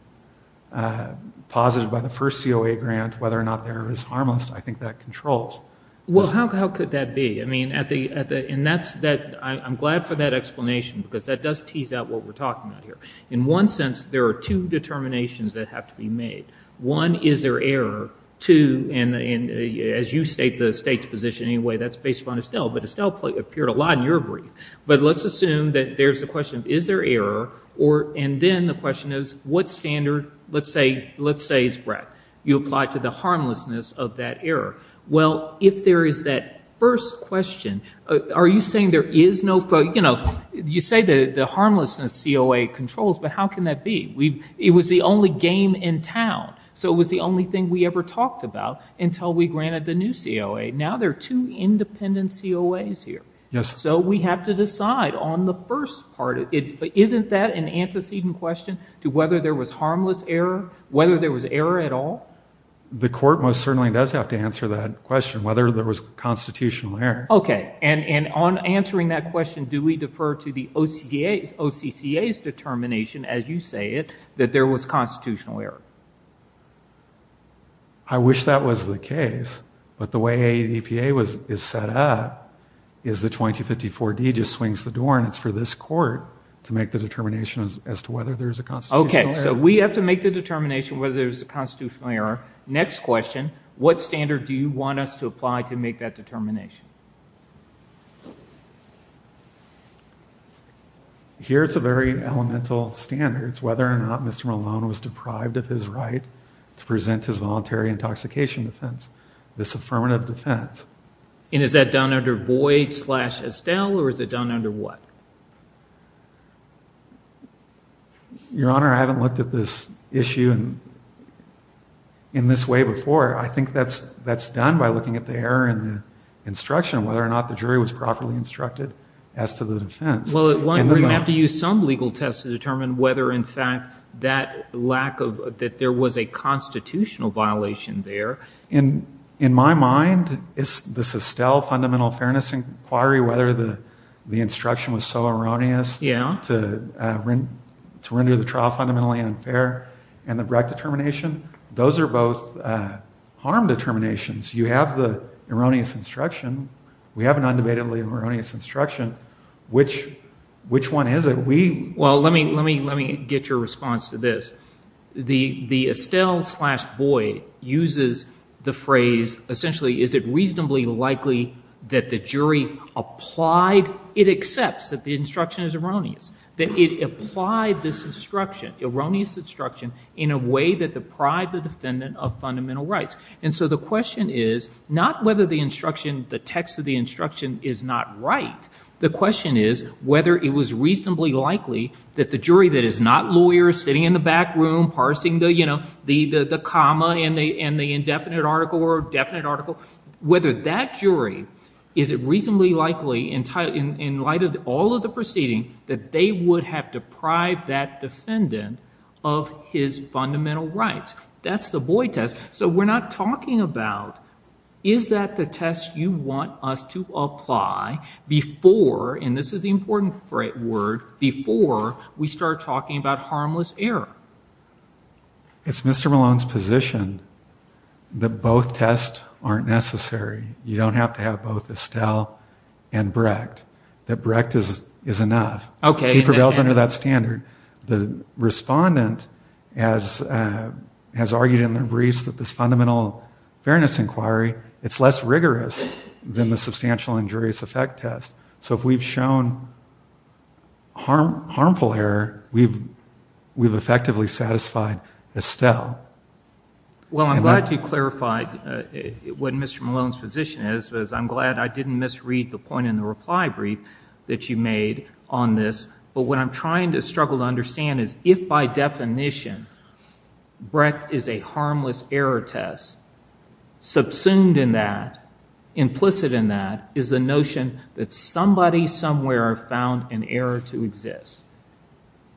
posited by the first COA grant, whether or not the error is harmless, I think that controls. Well, how could that be? I'm glad for that explanation, because that does tease out what we're talking about here. In one sense, there are two determinations that have to be made. One, is there error? Two, and as you state the state's position anyway, that's based upon Estelle, but Estelle appeared a lot in your brief. But let's assume that there's a question of is there error, and then the question is what standard, let's say is breadth. You apply to the harmlessness of that error. Well, if there is that first question, are you saying there is no, you know, you say the harmlessness COA controls, but how can that be? It was the only game in town, so it was the only thing we ever talked about until we granted the new COA. Now there are two independent COAs here. So we have to decide on the first part. Isn't that an antecedent question to whether there was harmless error, whether there was error at all? The court most certainly does have to answer that question, whether there was constitutional error. Okay, and on answering that question, do we defer to the OCCA's determination, as you say it, that there was constitutional error? I wish that was the case, but the way the EPA is set up is the 2254D just swings the door, and it's for this court to make the determination as to whether there's a constitutional error. Okay, so we have to make the determination whether there's a constitutional error. Next question, what standard do you want us to apply to make that determination? Here's a very elemental standard. It's whether or not Mr. Malone was deprived of his right to present his voluntary intoxication defense, this affirmative defense. And is that done under Boyd slash Estelle, or is it done under what? I mean, I haven't looked at this issue in this way before. I think that's done by looking at the error in the instruction, whether or not the jury was properly instructed as to the offense. Well, you have to use some legal tests to determine whether, in fact, that there was a constitutional violation there. In my mind, the Estelle Fundamental Fairness Inquiry, whether the instruction was so erroneous to render the trial fundamentally unfair, and the Brecht determination, those are both harm determinations. You have the erroneous instruction. We have an undebatedly erroneous instruction. Which one is it? Well, let me get your response to this. The Estelle slash Boyd uses the phrase, essentially, is it reasonably likely that the jury applied, it accepts that the instruction is erroneous, that it applied this instruction, erroneous instruction, in a way that deprived the defendant of fundamental rights. And so the question is not whether the instruction, the text of the instruction is not right. The question is whether it was reasonably likely that the jury that is not lawyers, sitting in the back room, parsing the, you know, the comma and the indefinite article or definite article, whether that jury is it reasonably likely, in light of all of the proceedings, that they would have deprived that defendant of his fundamental rights. That's the Boyd test. So we're not talking about is that the test you want us to apply before, and this is the important word, before we start talking about harmless error. It's Mr. Malone's position that both tests aren't necessary. You don't have to have both Estelle and Brecht. That Brecht is enough. Okay. He prevails under that standard. The respondent has argued in the briefs that this fundamental fairness inquiry, it's less rigorous than the substantial injurious effect test. So if we've shown harmful error, we've effectively satisfied Estelle. Well, I'm glad you clarified what Mr. Malone's position is. I'm glad I didn't misread the point in the reply brief that you made on this. But what I'm trying to struggle to understand is if, by definition, Brecht is a harmless error test, subsumed in that, implicit in that, is the notion that somebody somewhere found an error to exist.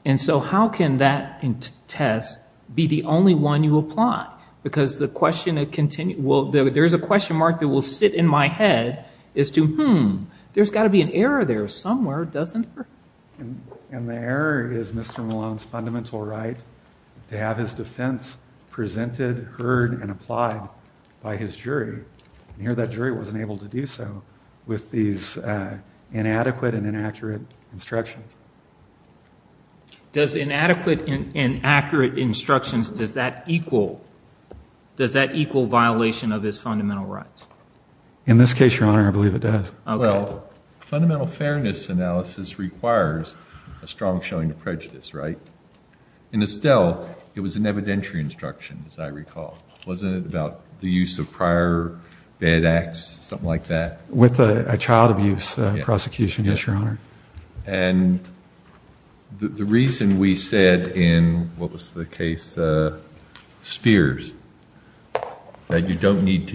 And so how can that test be the only one you apply? Because there's a question mark that will sit in my head as to, hmm, there's got to be an error there somewhere, doesn't there? And the error is Mr. Malone's fundamental right to have his defense presented, heard, and applied by his jury. And here that jury wasn't able to do so with these inadequate and inaccurate instructions. Does inadequate and inaccurate instructions, does that equal violation of his fundamental rights? In this case, Your Honor, I believe it does. Well, fundamental fairness analysis requires a strong showing of prejudice, right? In Estelle, it was an evidentiary instruction, as I recall. Wasn't it about the use of prior bad acts, something like that? With a child abuse prosecution, yes, Your Honor. And the reason we said in, what was the case, Spears, that you don't need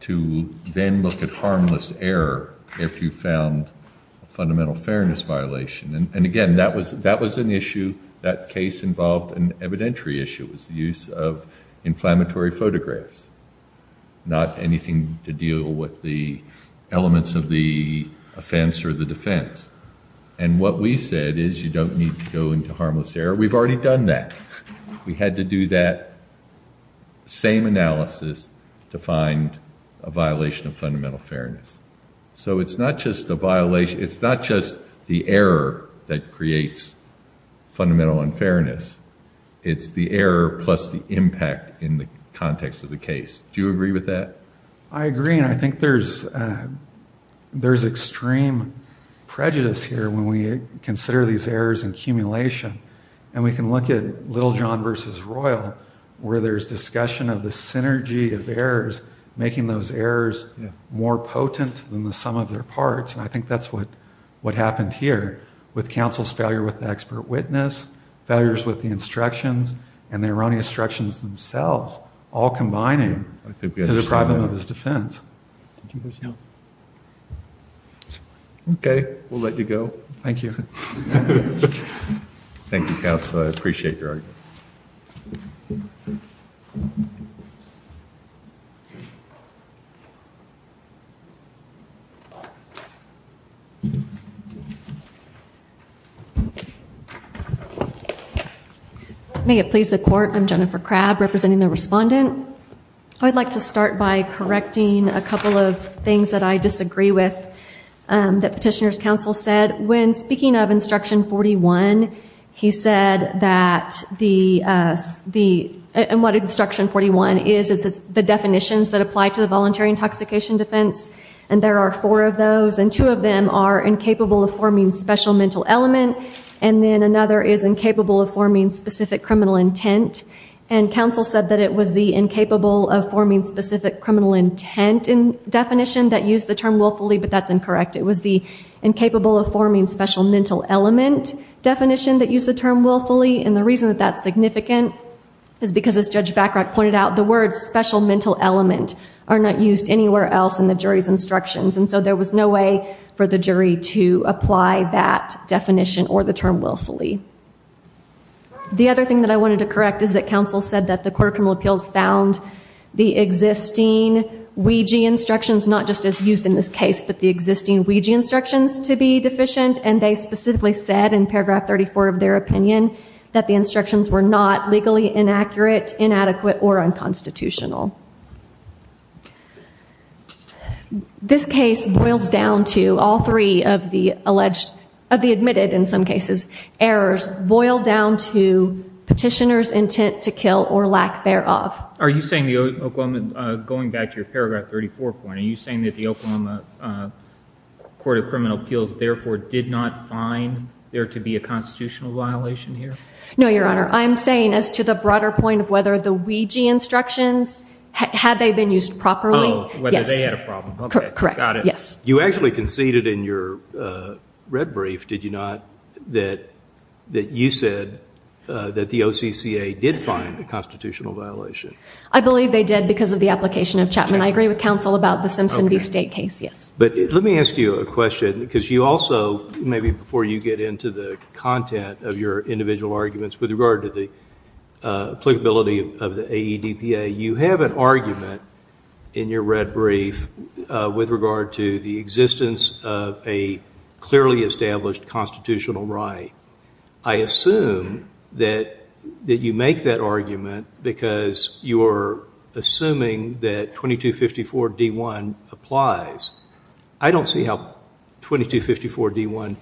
to then look at harmless error if you found a fundamental fairness violation. And again, that was an issue, that case involved an evidentiary issue. It was the use of inflammatory photographs, not anything to deal with the elements of the offense or the defense. And what we said is you don't need to go into harmless error. We've already done that. We had to do that same analysis to find a violation of fundamental fairness. So it's not just the violation, it's not just the error that creates fundamental unfairness. It's the error plus the impact in the context of the case. Do you agree with that? I agree, and I think there's extreme prejudice here when we consider these errors in accumulation. And we can look at Littlejohn v. Royal, where there's discussion of the synergy of errors, making those errors more potent than the sum of their parts, and I think that's what happened here with counsel's failure with the expert witness, failures with the instructions, and the erroneous instructions themselves, all combining to the problem of his defense. Okay, we'll let you go. Thank you. Thank you, counsel, I appreciate your argument. May it please the court, I'm Jennifer Crabb, representing the respondent. I'd like to start by correcting a couple of things that I disagree with that petitioner's counsel said. When speaking of Instruction 41, he said that the – and what Instruction 41 is, it's the definitions that apply to the voluntary intoxication defense, and there are four of those, and two of them are incapable of forming special mental elements, and then another is incapable of forming specific criminal intent. And counsel said that it was the incapable of forming specific criminal intent definition that used the term willfully, but that's incorrect. It was the incapable of forming special mental element definition that used the term willfully, and the reason that that's significant is because, as Judge Backrock pointed out, the words special mental element are not used anywhere else in the jury's instructions, and so there was no way for the jury to apply that definition or the term willfully. The other thing that I wanted to correct is that counsel said that the court of criminal appeals found the existing Ouija instructions not just as used in this case, but the existing Ouija instructions to be deficient, and they specifically said, in paragraph 34 of their opinion, that the instructions were not legally inaccurate, inadequate, or unconstitutional. This case boils down to all three of the alleged – of the admitted, in some cases, errors, boil down to petitioner's intent to kill or lack thereof. Are you saying the Oklahoma – going back to your paragraph 34 point, are you saying that the Oklahoma court of criminal appeals, therefore, did not find there to be a constitutional violation here? No, Your Honor. I'm saying as to the broader point of whether the Ouija instructions, had they been used properly – Oh, whether they had a problem. Correct. Got it. You actually conceded in your red brief, did you not, that you said that the OCCA did find a constitutional violation? I believe they did because of the application of Chapman. I agree with counsel about the Simpson v. State case, yes. But let me ask you a question, because you also, maybe before you get into the content of your individual arguments with regard to the applicability of the AEDPA, you have an argument in your red brief with regard to the existence of a clearly established constitutional right. I assume that you make that argument because you're assuming that 2254 D-1 applies. I don't see how 2254 D-1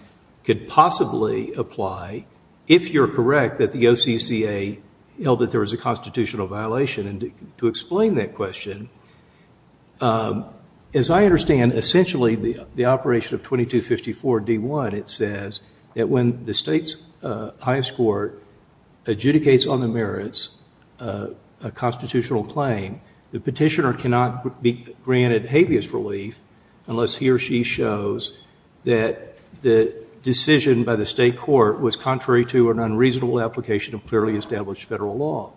could possibly apply if you're correct that the OCCA held that there was a constitutional violation. And to explain that question, as I understand, essentially, the operation of 2254 D-1, it says that when the state's highest court adjudicates on the merits a constitutional claim, the petitioner cannot be granted habeas relief unless he or she shows that the decision by the state court was contrary to an unreasonable application of clearly established federal law.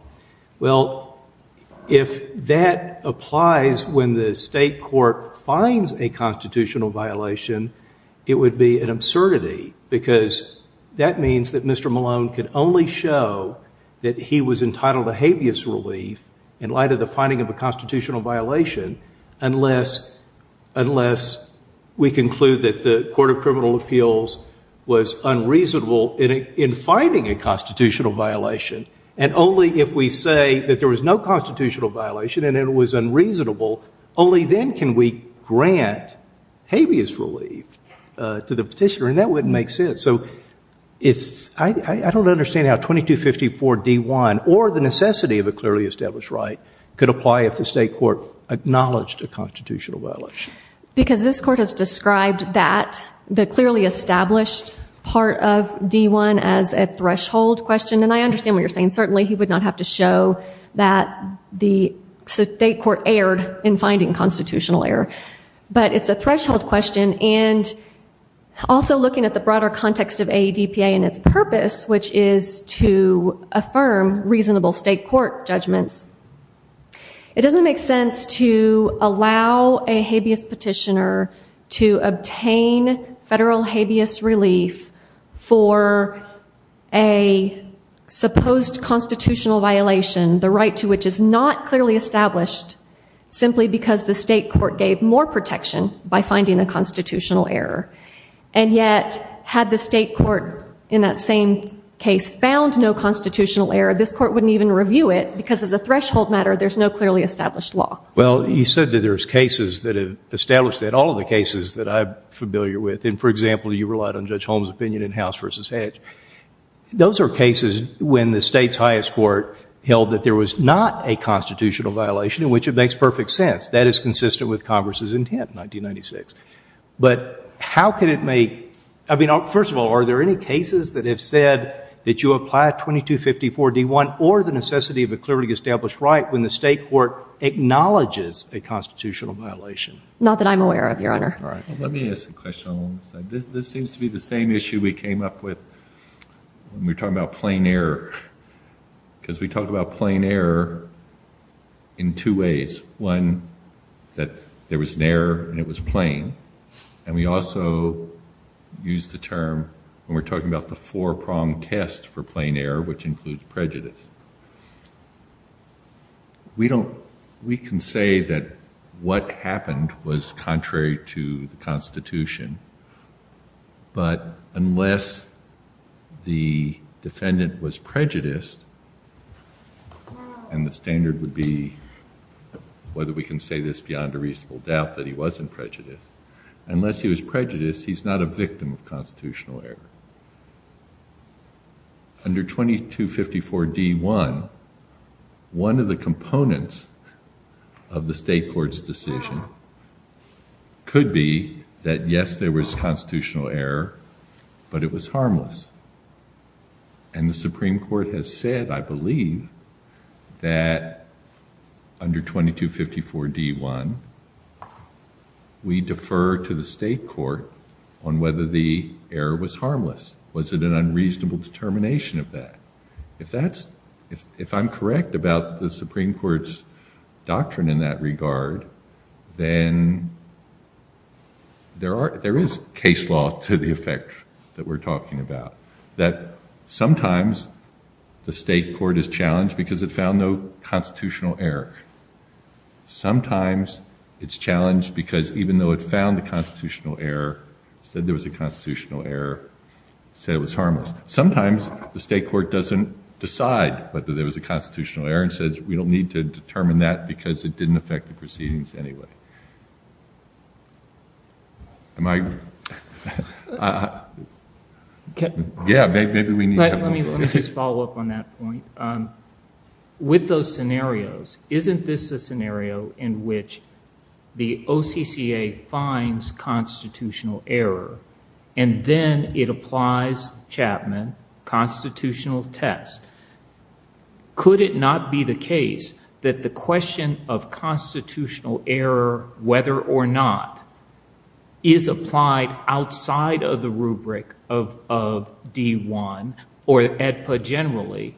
Well, if that applies when the state court finds a constitutional violation, it would be an absurdity because that means that Mr. Malone could only show that he was entitled to habeas relief in light of the finding of a constitutional violation unless we conclude that the Court of Criminal Procedure was unreasonable in finding a constitutional violation. And only if we say that there was no constitutional violation and it was unreasonable, only then can we grant habeas relief to the petitioner. And that wouldn't make sense. So I don't understand how 2254 D-1 or the necessity of a clearly established right could apply if the state court acknowledged a constitutional violation. Because this court has described that, the clearly established part of D-1, as a threshold question. And I understand what you're saying. Certainly, he would not have to show that the state court erred in finding constitutional error. But it's a threshold question. And also looking at the broader context of AEDPA and its purpose, which is to affirm reasonable state court judgments, it doesn't make sense to allow a habeas petitioner to obtain federal habeas relief for a supposed constitutional violation, the right to which is not clearly established, simply because the state court gave more protection by finding a constitutional error. And yet, had the state court in that same case found no constitutional error, this court wouldn't even review it. Because of the threshold matter, there's no clearly established law. Well, you said that there's cases that have established that. All of the cases that I'm familiar with. And, for example, you relied on Judge Holmes' opinion in House v. Hedge. Those are cases when the state's highest court held that there was not a constitutional violation, in which it makes perfect sense. That is consistent with Congress's intent in 1996. But how can it make... I mean, first of all, are there any cases that have said that you apply 2254-D1 or the necessity of a clearly established right when the state court acknowledges a constitutional violation? Not that I'm aware of, Your Honor. Let me ask a question. This seems to be the same issue we came up with when we were talking about plain error. Because we talked about plain error in two ways. One, that there was an error and it was plain. And we also used the term when we were talking about the four-pronged test for plain error, which includes prejudice. We can say that what happened was contrary to the Constitution. But unless the defendant was prejudiced, and the standard would be, whether we can say this beyond a reasonable doubt, that he wasn't prejudiced. Unless he was prejudiced, he's not a victim of constitutional error. Under 2254-D1, one of the components of the state court's decision could be that, yes, there was constitutional error, but it was harmless. And the Supreme Court has said, I believe, that under 2254-D1, we defer to the state court on whether the error was harmless. Was it an unreasonable determination of that? If I'm correct about the Supreme Court's doctrine in that regard, then there is case law to the effect that we're talking about. That sometimes the state court is challenged because it found no constitutional error. Sometimes it's challenged because even though it found a constitutional error, said there was a constitutional error, said it was harmless. Sometimes the state court doesn't decide whether there was a constitutional error and says, we don't need to determine that because it didn't affect the proceedings anyway. Am I? Yeah, maybe we need to have more. Let me just follow up on that point. With those scenarios, isn't this a scenario in which the OCCA finds constitutional error, and then it applies Chapman constitutional test? Could it not be the case that the question of constitutional error, whether or not, is applied outside of the rubric of D1 or AEDPA generally,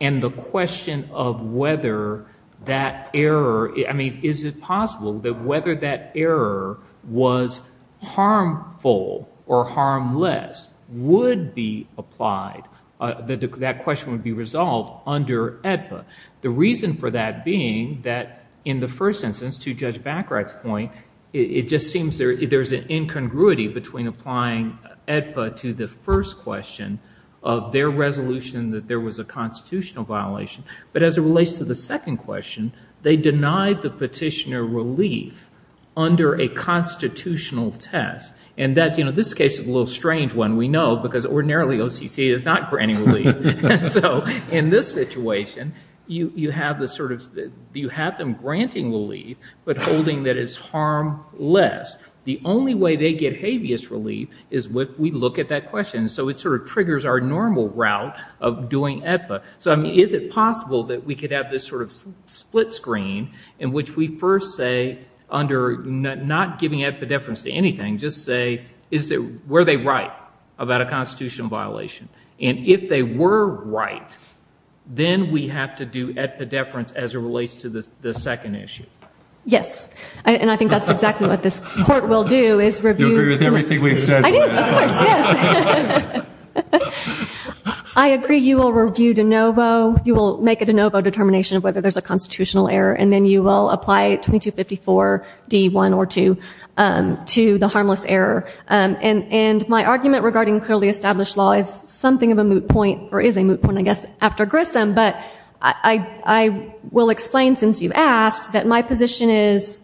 and the question of whether that error, I mean, is it possible that whether that error was harmful or harmless would be applied, that question would be resolved under AEDPA? The reason for that being that in the first instance, to Judge Bacharach's point, it just seems there's an incongruity between applying AEDPA to the first question of their resolution that there was a constitutional violation, but as it relates to the second question, they denied the petitioner relief under a constitutional test. This case is a little strange one, we know, because ordinarily OCCA is not granting relief. In this situation, you have them granting relief, but holding that it's harmless. The only way they get habeas relief is if we look at that question, so it sort of triggers our normal route of doing AEDPA. Is it possible that we could have this sort of split screen in which we first say, under not giving AEDPA deference to anything, just say, were they right about a constitutional violation? And if they were right, then we have to do AEDPA deference as it relates to the second issue. Yes, and I think that's exactly what this court will do, is review. Everything we've said. I agree, you will review de novo, you will make a de novo determination of whether there's a constitutional error, and then you will apply 2254 D1 or 2 to the harmless error. And my argument regarding clearly established law is something of a moot point, or is a moot point, I guess, after Grissom, but I will explain, since you've asked, that my position is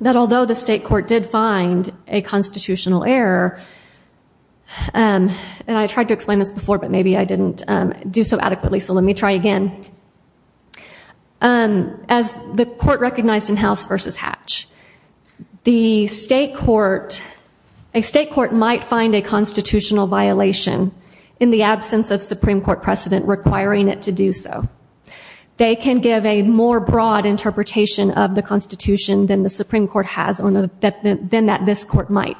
that although the state court did find a constitutional error, and I tried to explain this before, but maybe I didn't do so adequately, so let me try again. As the court recognized in House v. Hatch, the state court, a state court might find a constitutional violation in the absence of Supreme Court precedent requiring it to do so. They can give a more broad interpretation of the Constitution than the Supreme Court has, than this court might.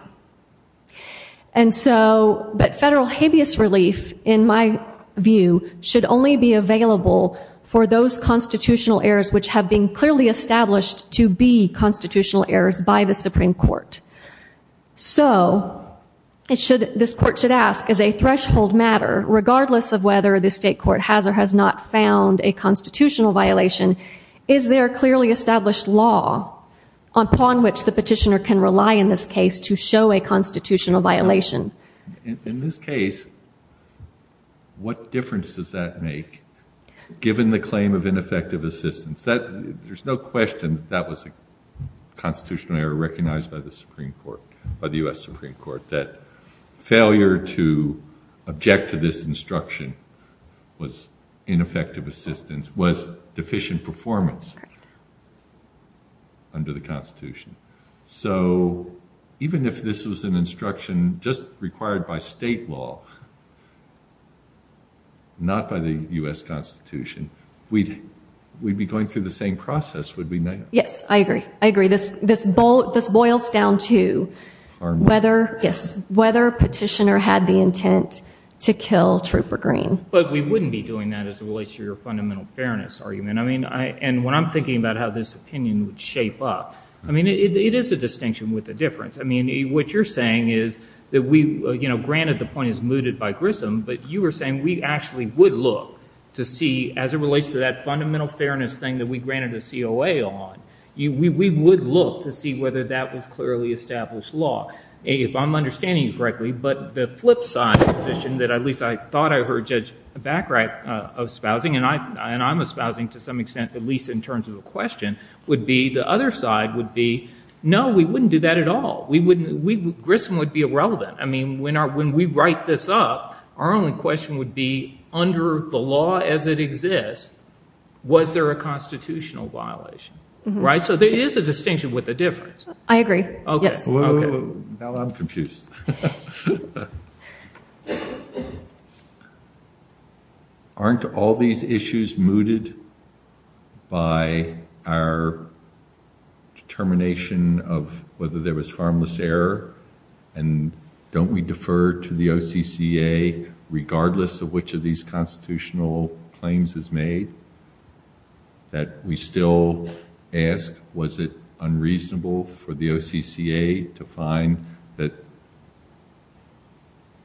And so, but federal hideous relief, in my view, should only be available for those constitutional errors which have been clearly established to be constitutional errors by the Supreme Court. So, this court should ask, is a threshold matter, regardless of whether the state court has or has not found a constitutional violation, is there a clearly established law upon which the petitioner can rely in this case to show a constitutional violation? In this case, what difference does that make, given the claim of ineffective assistance? There's no question that that was a constitutional error recognized by the Supreme Court, by the U.S. Supreme Court, that failure to object to this instruction was ineffective assistance, was deficient performance under the Constitution. So, even if this was an instruction just required by state law, not by the U.S. Constitution, we'd be going through the same process, would we not? Yes, I agree. I agree. This boils down to whether petitioner had the intent to kill Trooper Green. But we wouldn't be doing that as it relates to your fundamental fairness argument. I mean, and when I'm thinking about how this opinion would shape up, I mean, it is a distinction with a difference. I mean, what you're saying is that we, you know, granted the point is mooted by Grissom, but you were saying we actually would look to see as it relates to that fundamental fairness thing that we granted a COA on. We would look to see whether that was clearly established law. A, if I'm understanding you correctly, but the flip side of the petition, that at least I thought I heard Judge Bachrach espousing, and I'm espousing to some extent, at least in terms of a question, would be the other side would be, no, we wouldn't do that at all. Grissom would be irrelevant. I mean, when we write this up, our only question would be under the law as it exists, was there a constitutional violation? Right? So there is a distinction with a difference. I agree. Now I'm confused. Aren't all these issues mooted by our determination of whether there was harmless error? And don't we defer to the OCCA regardless of which of these constitutional claims is made? That we still ask, was it unreasonable for the OCCA to find that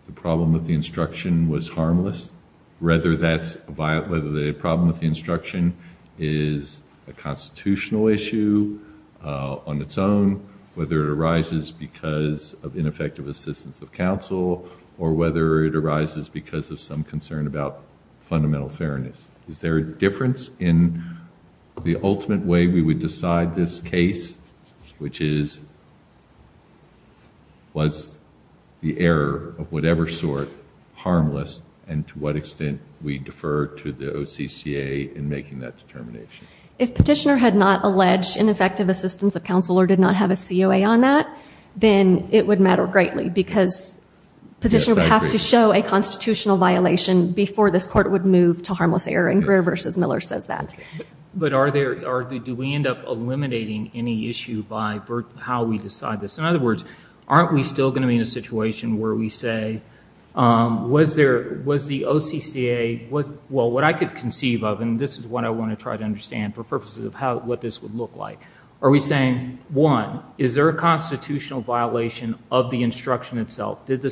the problem with the instruction was harmless? Whether the problem with the instruction is a constitutional issue on its own, whether it arises because of ineffective assistance of counsel, or whether it arises because of some concern about fundamental fairness. Is there a difference in the ultimate way we would decide this case, which is, was the error of whatever sort harmless, and to what extent we defer to the OCCA in making that determination? If Petitioner had not alleged ineffective assistance of counsel or did not have a COA on that, then it would matter greatly because Petitioner would have to show a constitutional violation before the court would move to harmless error, and Greer v. Miller says that. But do we end up eliminating any issue by how we decide this? In other words, aren't we still going to be in a situation where we say, was the OCCA, well, what I could conceive of, and this is what I want to try to understand for purposes of what this would look like. Are we saying, one, is there a constitutional violation of the instruction itself? Did the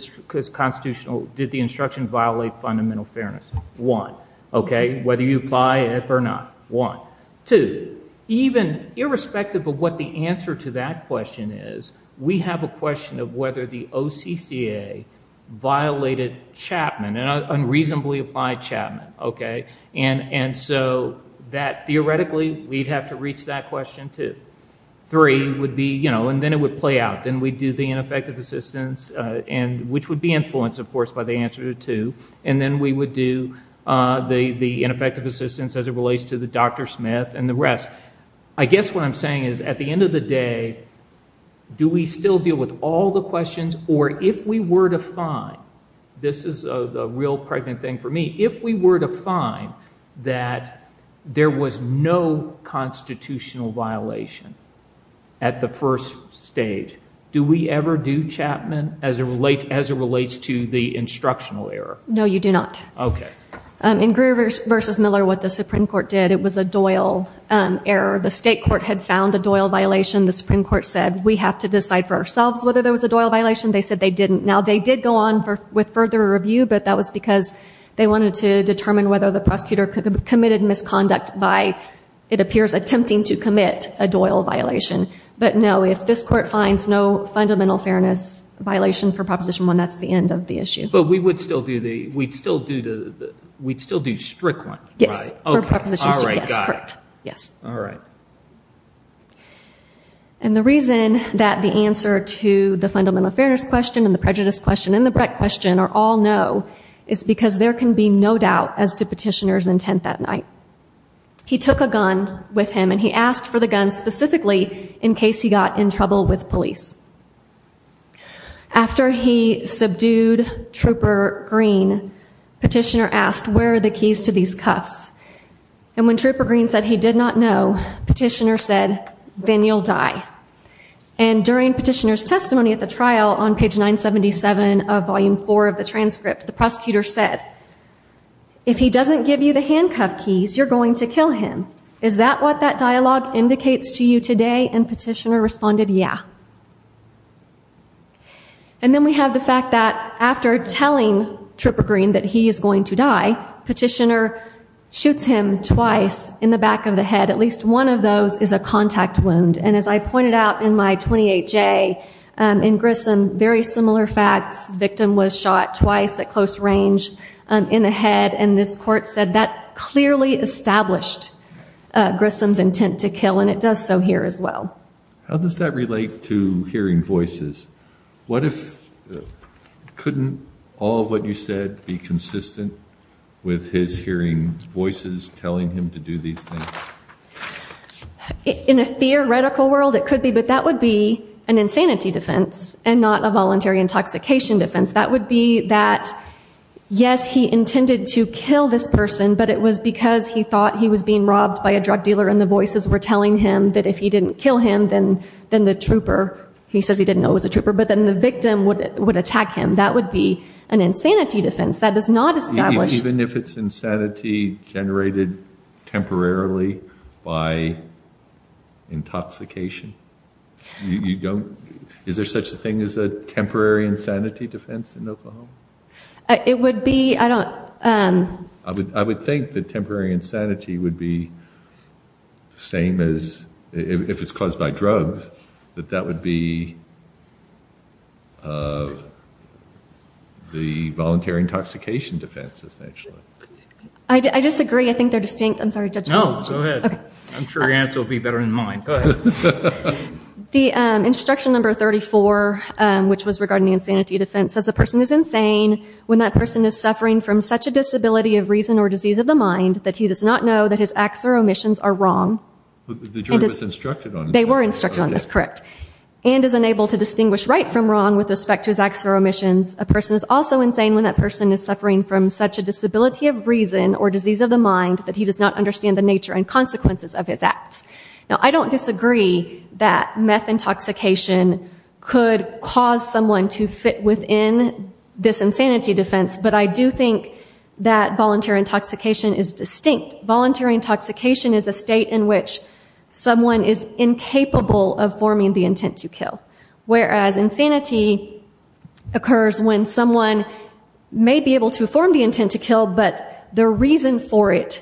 instruction violate fundamental fairness? One. Whether you buy it or not? One. Two, even irrespective of what the answer to that question is, we have a question of whether the OCCA violated Chapman and unreasonably applied Chapman. And so that, theoretically, we'd have to reach that question, too. Three would be, you know, and then it would play out. Then we'd do the ineffective assistance, which would be influenced, of course, by the answer to two. And then we would do the ineffective assistance as it relates to the Dr. Smith and the rest. I guess what I'm saying is, at the end of the day, do we still deal with all the questions, or if we were to find, this is a real pregnant thing for me, if we were to find that there was no constitutional violation at the first stage, do we ever do Chapman as it relates to the instructional error? No, you do not. Okay. In Greer v. Miller, what the Supreme Court did, it was a Doyle error. The state court had found a Doyle violation. The Supreme Court said, we have to decide for ourselves whether there was a Doyle violation. They said they didn't. Now, they did go on with further review, but that was because they wanted to determine whether the prosecutor committed misconduct by, it appears, attempting to commit a Doyle violation. But, no, if this court finds no fundamental fairness violation for Proposition 1, that's the end of the issue. But we would still do the, we'd still do strict one, right? Yes. All right, got it. Yes. All right. And the reason that the answer to the fundamental fairness question, and the prejudice question, and the Brecht question are all no, is because there can be no doubt as to Petitioner's intent that night. He took a gun with him, and he asked for the gun specifically in case he got in trouble with police. After he subdued Trooper Green, Petitioner asked, where are the keys to these cuffs? And when Trooper Green said he did not know, Petitioner said, then you'll die. And during Petitioner's testimony at the trial on page 977 of Volume 4 of the transcript, the prosecutor said, if he doesn't give you the handcuff keys, you're going to kill him. Is that what that dialogue indicates to you today? And Petitioner responded, yeah. And then we have the fact that after telling Trooper Green that he is going to die, Petitioner shoots him twice in the back of the head. At least one of those is a contact wound. And as I pointed out in my 28-J in Grissom, very similar facts. The victim was shot twice at close range in the head, and this court said that clearly established Grissom's intent to kill, and it does so here as well. How does that relate to hearing voices? What if, couldn't all of what you said be consistent with his hearing voices telling him to do these things? In a theoretical world, it could be, but that would be an insanity defense and not a voluntary intoxication defense. That would be that, yes, he intended to kill this person, but it was because he thought he was being robbed by a drug dealer and the voices were telling him that if he didn't kill him, then the trooper, he says he didn't know he was a trooper, but then the victim would attack him. That would be an insanity defense. That is not established. Even if it's insanity generated temporarily by intoxication? Is there such a thing as a temporary insanity defense in Oklahoma? It would be, I don't... I would think that temporary insanity would be the same as, if it's caused by drugs, that that would be the voluntary intoxication defense, essentially. I disagree. I think they're distinct. I'm sorry, Judge. No, go ahead. I'm sure your answer will be better than mine. Go ahead. The instruction number 34, which was regarding the insanity defense, says the person is insane when that person is suffering from such a disability of reason or disease of the mind that he does not know that his acts or omissions are wrong. The jury was instructed on this. They were instructed on this, correct, and is unable to distinguish right from wrong with respect to his acts or omissions. A person is also insane when that person is suffering from such a disability of reason or disease of the mind that he does not understand the nature and consequences of his acts. Now, I don't disagree that meth intoxication could cause someone to fit within this insanity defense, but I do think that voluntary intoxication is distinct. Voluntary intoxication is a state in which someone is incapable of forming the intent to kill, whereas insanity occurs when someone may be able to form the intent to kill, but their reason for it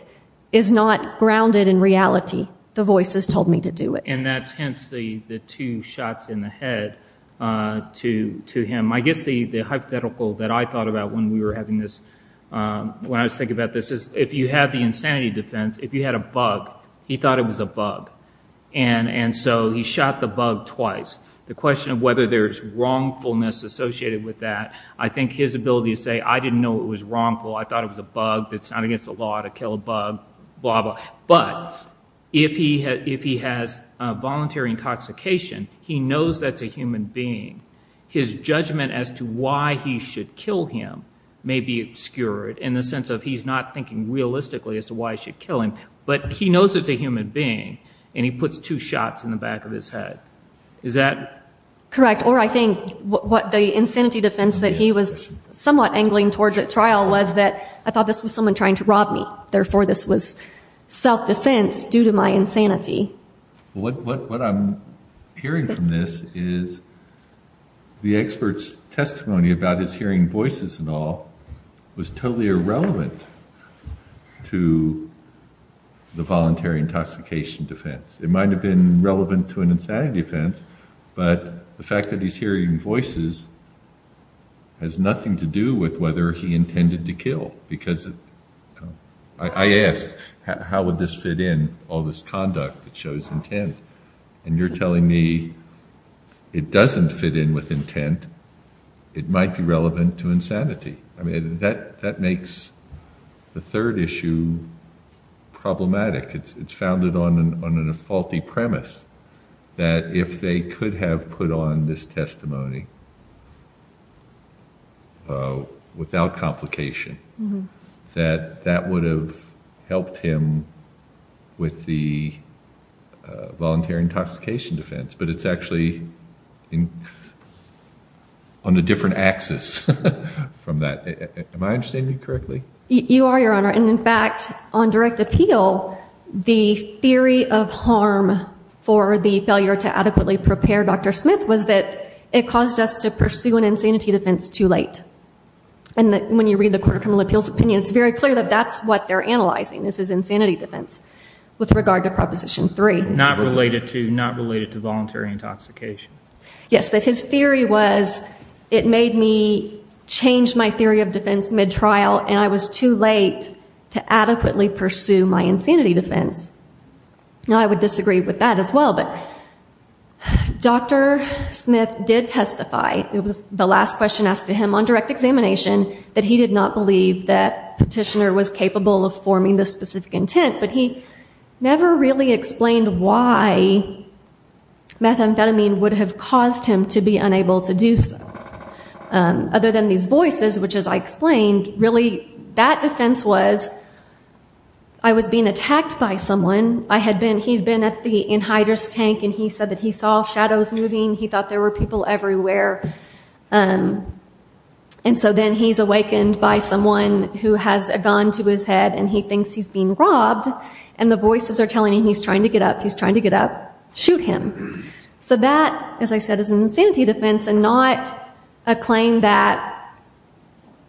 is not grounded in reality. The voice has told me to do it. And that hints the two shots in the head to him. I guess the hypothetical that I thought about when we were having this, when I was thinking about this, is if you have the insanity defense, if you had a bug, he thought it was a bug, and so he shot the bug twice. The question of whether there's wrongfulness associated with that, I think his ability to say, I didn't know it was wrongful, I thought it was a bug, it's not against the law to kill a bug, blah, blah. But if he has voluntary intoxication, he knows that's a human being. His judgment as to why he should kill him may be obscured in the sense of he's not thinking realistically as to why he should kill him, but he knows it's a human being, and he puts two shots in the back of his head. Is that correct? Or I think the insanity defense that he was somewhat angling towards at trial was that I thought this was someone trying to rob me, therefore this was self-defense due to my insanity. What I'm hearing from this is the expert's testimony about his hearing voices and all was totally irrelevant to the voluntary intoxication defense. It might have been relevant to an insanity defense, but the fact that he's hearing voices has nothing to do with whether he intended to kill. I ask, how would this fit in, all this conduct that shows intent, and you're telling me it doesn't fit in with intent, it might be relevant to insanity. That makes the third issue problematic. It's founded on a faulty premise that if they could have put on this testimony without complication, that that would have helped him with the voluntary intoxication defense, but it's actually on a different axis from that. Am I understanding you correctly? You are, Your Honor, and in fact, on direct appeal, the theory of harm for the failure to adequately prepare Dr. Smith was that it caused us to pursue an insanity defense too late. And when you read the Court of Criminal Appeals opinion, it's very clear that that's what they're analyzing. This is insanity defense with regard to Proposition 3. Not related to voluntary intoxication. Yes, but his theory was it made me change my theory of defense mid-trial and I was too late to adequately pursue my insanity defense. Now, I would disagree with that as well, but Dr. Smith did testify, it was the last question asked to him on direct examination, that he did not believe that Petitioner was capable of forming this specific intent, but he never really explained why methamphetamine would have caused him to be unable to do so. Other than these voices, which, as I explained, really that defense was, I was being attacked by someone. He'd been at the anhydrous tank and he said that he saw shadows moving, he thought there were people everywhere. And so then he's awakened by someone who has a gun to his head and he thinks he's being robbed, and the voices are telling him he's trying to get up, he's trying to get up, shoot him. So that, as I said, is an insanity defense and not a claim that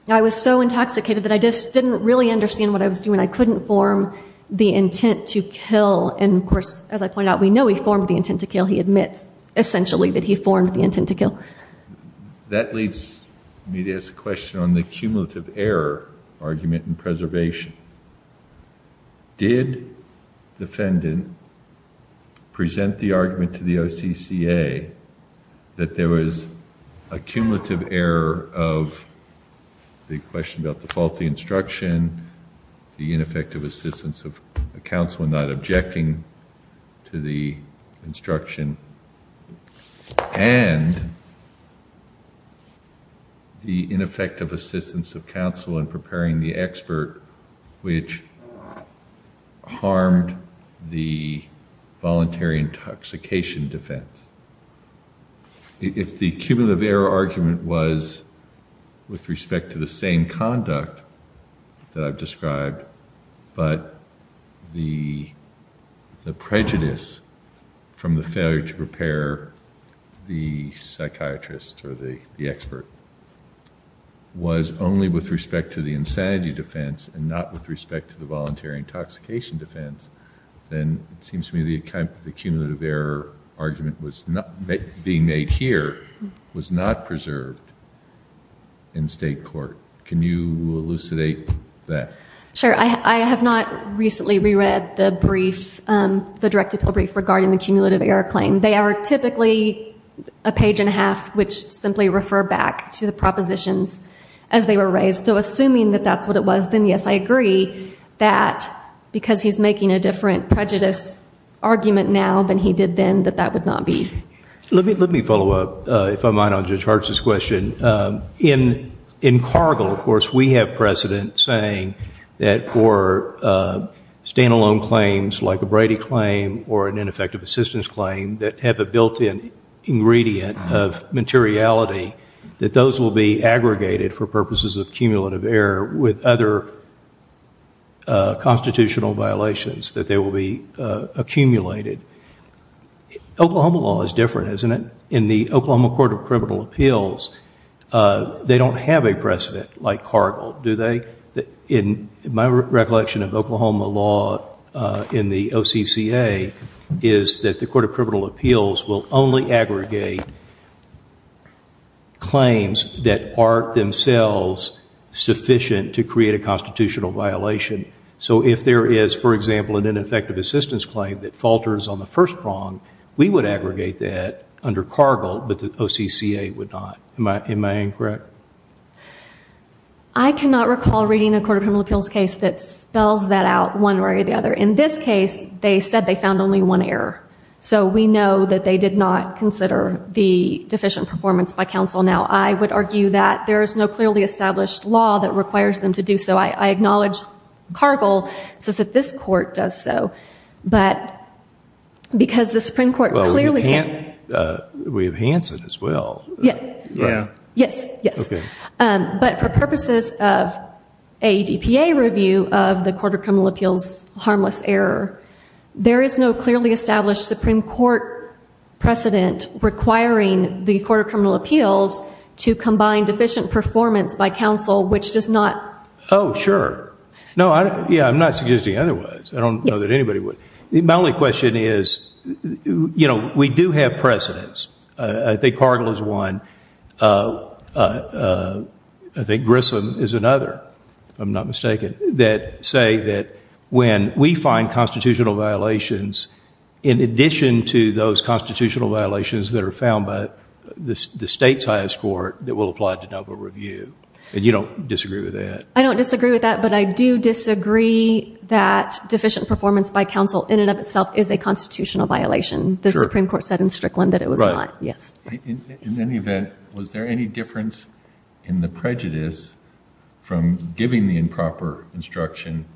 I was so intoxicated that I just didn't really understand what I was doing. I couldn't form the intent to kill. And, of course, as I point out, we know he formed the intent to kill. He admits, essentially, that he formed the intent to kill. That leads me to ask a question on the cumulative error argument in preservation. Did the defendant present the argument to the OCCA that there was a cumulative error of the question about the faulty instruction, the ineffective assistance of counsel in not objecting to the instruction, and the ineffective assistance of counsel in preparing the expert which harmed the voluntary intoxication defense? If the cumulative error argument was with respect to the same conduct that I've described, but the prejudice from the failure to prepare the psychiatrist or the expert was only with respect to the insanity defense and not with respect to the voluntary intoxication defense, then it seems to me the cumulative error argument being made here was not preserved in state court. Can you elucidate that? Sure. I have not recently reread the brief, the direct appeal brief regarding the cumulative error claim. They are typically a page and a half which simply refer back to the propositions as they were raised. So assuming that that's what it was, then yes, I agree that because he's making a different prejudice argument now than he did then, that that would not be. Let me follow up, if I might, on Judge Hartz's question. In Cargill, of course, we have precedent saying that for stand-alone claims like a Brady claim or an ineffective assistance claim that have a built-in ingredient of materiality, that those will be aggregated for purposes of cumulative error with other constitutional violations, that they will be accumulated. Oklahoma law is different, isn't it? In the Oklahoma Court of Criminal Appeals, they don't have a precedent like Cargill, do they? In my recollection of Oklahoma law in the OCCA, is that the Court of Criminal Appeals will only aggregate claims that aren't themselves sufficient to create a constitutional violation. So if there is, for example, an ineffective assistance claim that falters on the first prong, we would aggregate that under Cargill, but the OCCA would not. Am I correct? I cannot recall reading a Court of Criminal Appeals case that spells that out one way or the other. In this case, they said they found only one error. So we know that they did not consider the deficient performance by counsel. Now, I would argue that there is no clearly established law that requires them to do so. I acknowledge Cargill says that this Court does so, but because the Supreme Court clearly... Well, we have Hanson as well. Yes, yes. But for purposes of a DPA review of the Court of Criminal Appeals harmless error, there is no clearly established Supreme Court precedent requiring the Court of Criminal Appeals to combine deficient performance by counsel, which does not... Oh, sure. Yeah, I'm not suggesting otherwise. I don't know that anybody would. My only question is, you know, we do have precedents. I think Cargill is one. I think Grissom is another, if I'm not mistaken, that say that when we find constitutional violations, in addition to those constitutional violations that are found by the state's highest court that will apply to double review, and you don't disagree with that? I don't disagree with that, but I do disagree that deficient performance by counsel in and of itself is a constitutional violation. The Supreme Court said in Strickland that it was not. Right. Yes. In any event, was there any difference in the prejudice from giving the improper instruction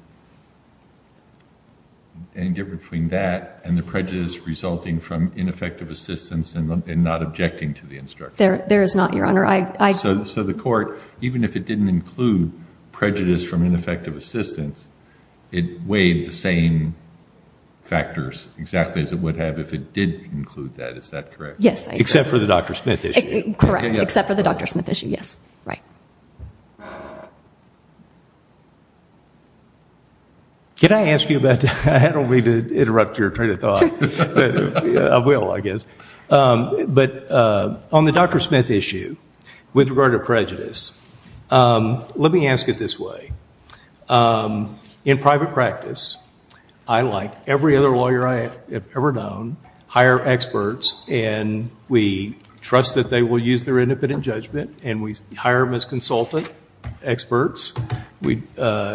and the prejudice resulting from ineffective assistance and not objecting to the instruction? There is not, Your Honor. So the court, even if it didn't include prejudice from ineffective assistance, it weighed the same factors exactly as it would have if it did include that. Is that correct? Yes. Except for the Dr. Smith issue. Correct. Except for the Dr. Smith issue, yes. Right. Can I ask you about that? I don't mean to interrupt your train of thought, but I will, I guess. But on the Dr. Smith issue with regard to prejudice, let me ask it this way. In private practice, I, like every other lawyer I have ever known, hire experts and we trust that they will use their independent judgment and we hire them as consultant experts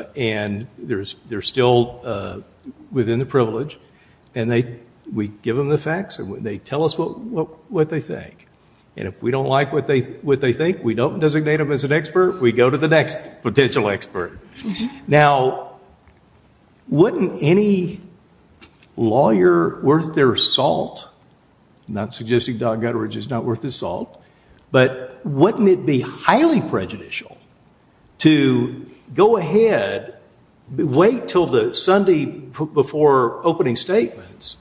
and they're still within the privilege and we give them the facts and they tell us what they think. And if we don't like what they think, we don't designate them as an expert, we go to the next potential expert. Now, wouldn't any lawyer worth their salt, I'm not suggesting Don Gutteridge is not worth his salt, but wouldn't it be highly prejudicial to go ahead, wait until the Sunday before opening statements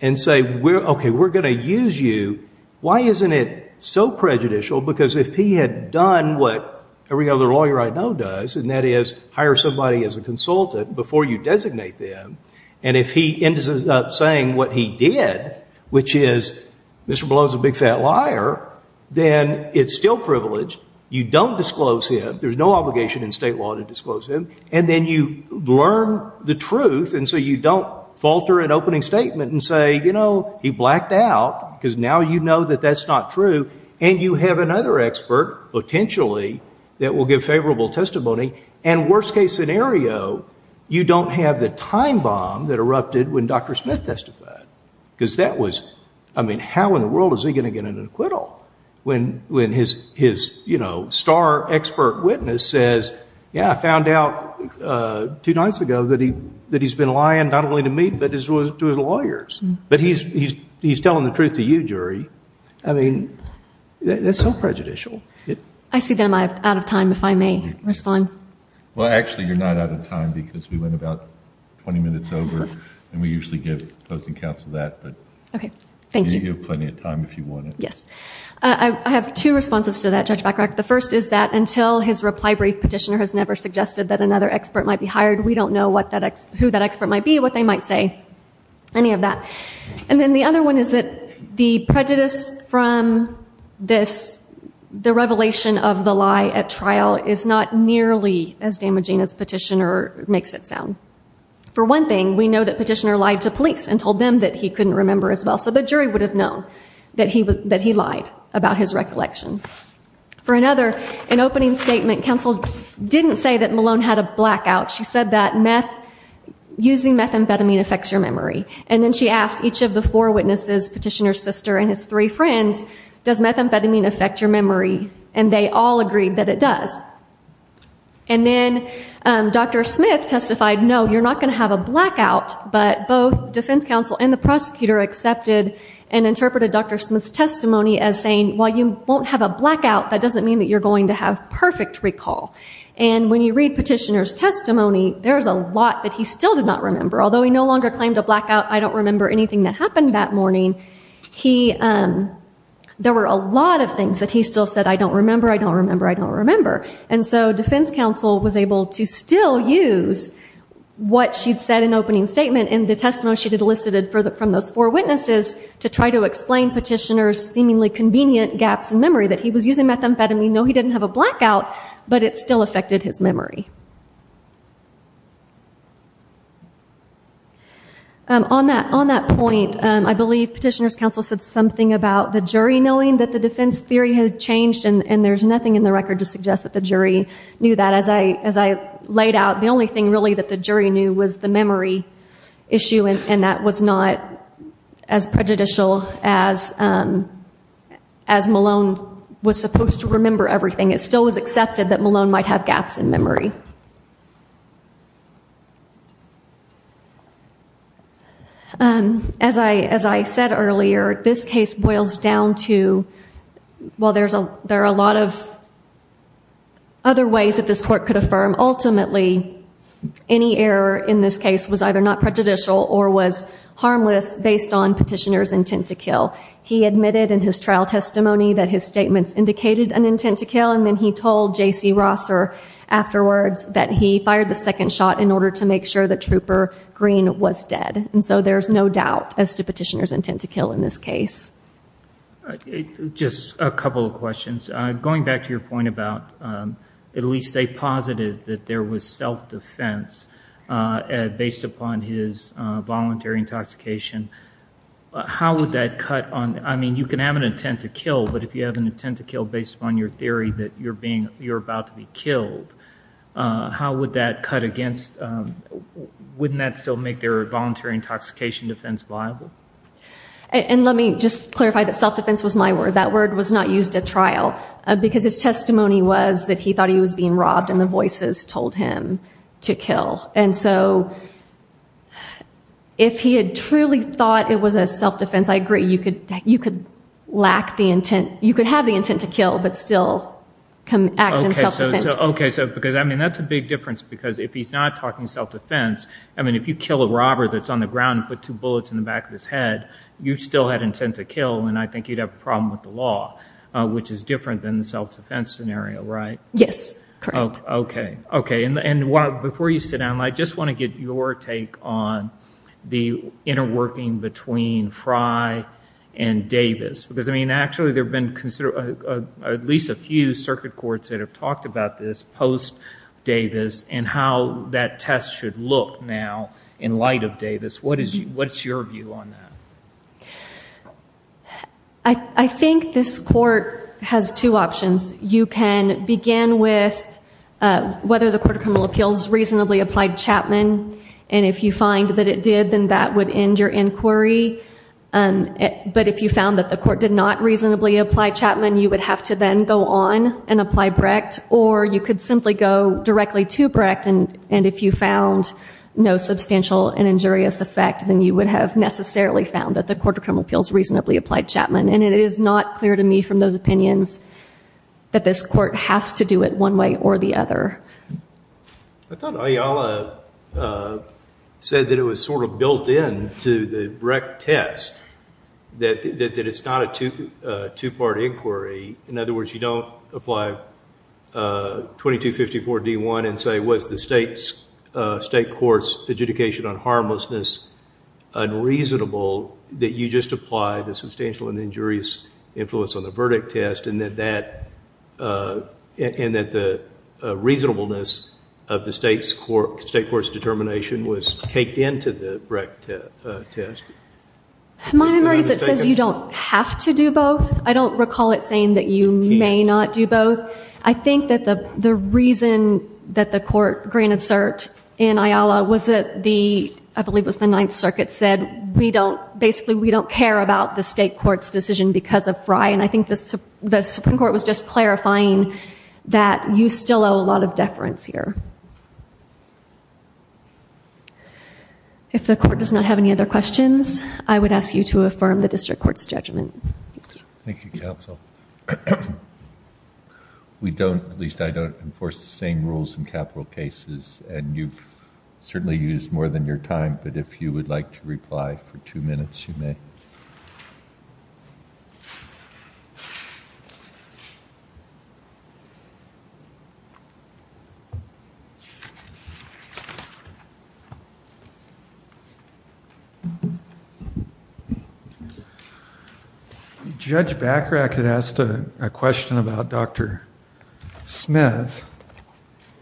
and say, okay, we're going to use you. Why isn't it so prejudicial? Because if he had done what every other lawyer I know does, and that is hire somebody as a consultant before you designate them, and if he ends up saying what he did, which is, Mr. Bellows is a big fat liar, then it's still privilege. You don't disclose him. There's no obligation in state law to disclose him. And then you learn the truth and so you don't falter an opening statement and say, you know, he blacked out because now you know that that's not true and you have another expert, potentially, that will give favorable testimony and worst case scenario, you don't have the time bomb that erupted when Dr. Smith testified because that was, I mean, how in the world is he going to get an acquittal when his star expert witness says, yeah, I found out two nights ago that he's been lying, not only to me, but to his lawyers. But he's telling the truth to you, jury. I mean, that's so prejudicial. I see that I'm out of time, if I may respond. Well, actually, you're not out of time because we went about 20 minutes over and we usually get closing counts of that, but you have plenty of time if you want to. Yes. I have two responses to that, Judge Bacharach. The first is that until his reply brief petitioner has never suggested that another expert might be hired, we don't know who that expert might be, what they might say, any of that. And then the other one is that the prejudice from this, the revelation of the lie at trial, is not nearly as damaging as petitioner makes it sound. For one thing, we know that petitioner lied to police and told them that he couldn't remember as well, so the jury would have known that he lied about his recollection. For another, an opening statement counsel didn't say that Malone had a blackout. She said that using methamphetamine affects your memory. And then she asked each of the four witnesses, petitioner's sister and his three friends, does methamphetamine affect your memory, and they all agreed that it does. And then Dr. Smith testified, no, you're not going to have a blackout, but both defense counsel and the prosecutor accepted and interpreted Dr. Smith's testimony as saying, while you won't have a blackout, that doesn't mean that you're going to have perfect recall. And when you read petitioner's testimony, there's a lot that he still did not remember. Although he no longer claimed a blackout, I don't remember anything that happened that morning, there were a lot of things that he still said, I don't remember, I don't remember, I don't remember. And so defense counsel was able to still use what she'd said in the opening statement and the testimony she'd elicited from the four witnesses to try to explain petitioner's seemingly convenient gaps in memory, that he was using methamphetamine, though he didn't have a blackout, but it still affected his memory. On that point, I believe petitioner's counsel said something about the jury knowing that the defense theory has changed and there's nothing in the record to suggest that the jury knew that. As I laid out, the only thing really that the jury knew was the memory issue and that was not as prejudicial as Malone was supposed to remember everything. It still was accepted that Malone might have gaps in memory. As I said earlier, this case boils down to, while there are a lot of other ways that this court could affirm, ultimately any error in this case was either not prejudicial or was harmless based on petitioner's intent to kill. He admitted in his trial testimony that his statements indicated an intent to kill and then he told J.C. Rosser afterwards that he fired the second shot in order to make sure that Trooper Green was dead. There's no doubt as to petitioner's intent to kill in this case. Just a couple of questions. Going back to your point about, at least they posited that there was self-defense based upon his voluntary intoxication. You can have an intent to kill, but if you have an intent to kill based upon your theory that you're about to be killed, wouldn't that still make their voluntary intoxication defense viable? Let me just clarify that self-defense was my word. That word was not used at trial because his testimony was that he thought he was being robbed and the voices told him to kill. If he had truly thought it was a self-defense, I agree. You could have the intent to kill, but still act in self-defense. That's a big difference because if he's not talking self-defense, if you kill a robber that's on the ground and put two bullets in the back of his head, you still had intent to kill and I think you'd have a problem with the law, which is different than the self-defense scenario, right? Yes, correct. Okay. Before you sit down, I just want to get your take on the interworking between Fry and Davis. Because, I mean, actually there have been at least a few circuit courts that have talked about this post-Davis and how that test should look now in light of Davis. What's your view on that? I think this court has two options. You can begin with whether the Court of Criminal Appeals reasonably applied Chapman and if you find that it did, then that would end your inquiry. But if you found that the court did not reasonably apply Chapman, you would have to then go on and apply Brecht or you could simply go directly to Brecht and if you found no substantial and injurious effect, then you would have necessarily found that the Court of Criminal Appeals reasonably applied Chapman. And it is not clear to me from those opinions that this court has to do it one way or the other. I thought Ayala said that it was sort of built in to the Brecht test, that it's not a two-part inquiry. In other words, you don't apply 2254 D.1 and say, was the state court's adjudication on harmlessness unreasonable that you just apply the substantial and injurious influence on the verdict test and that the reasonableness of the state court's determination was taped into the Brecht test? My mind says you don't have to do both. I don't recall it saying that you may not do both. I think that the reason that the court granted cert in Ayala was that the, the Ninth Circuit said we don't, basically we don't care about the state court's decision because of Brecht and I think the Supreme Court was just clarifying that you still owe a lot of deference here. If the court does not have any other questions, I would ask you to affirm the district court's judgment. Thank you, counsel. We don't, at least I don't, enforce the same rules in capital cases and you've certainly used more than your time, but if you would like to reply for two minutes, you may. Judge Bachrach had asked a question about Dr. Smith.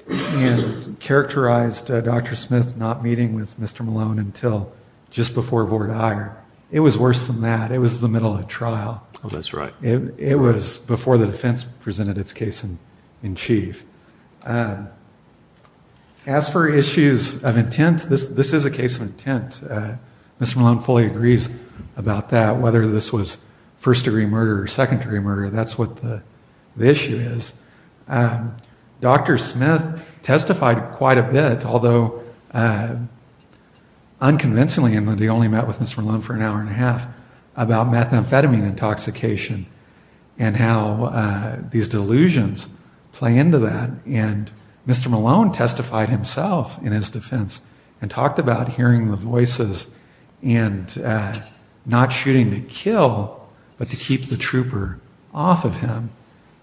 He has characterized Dr. Smith not meeting with Mr. Malone until just before Vort Aeger. It was worse than that. It was the middle of trial. Oh, that's right. It was before the defense presented its case in chief. As for issues of intent, this is a case of intent. Mr. Malone fully agrees about that. Whether this was first degree murder or secondary murder, that's what the issue is. Dr. Smith testified quite a bit, although unconvincingly, when they only met with Mr. Malone for an hour and a half, about methamphetamine intoxication and how these delusions play into that. And Mr. Malone testified himself in his defense and talked about hearing the voices and not shooting to kill, but to keep the trooper off of him.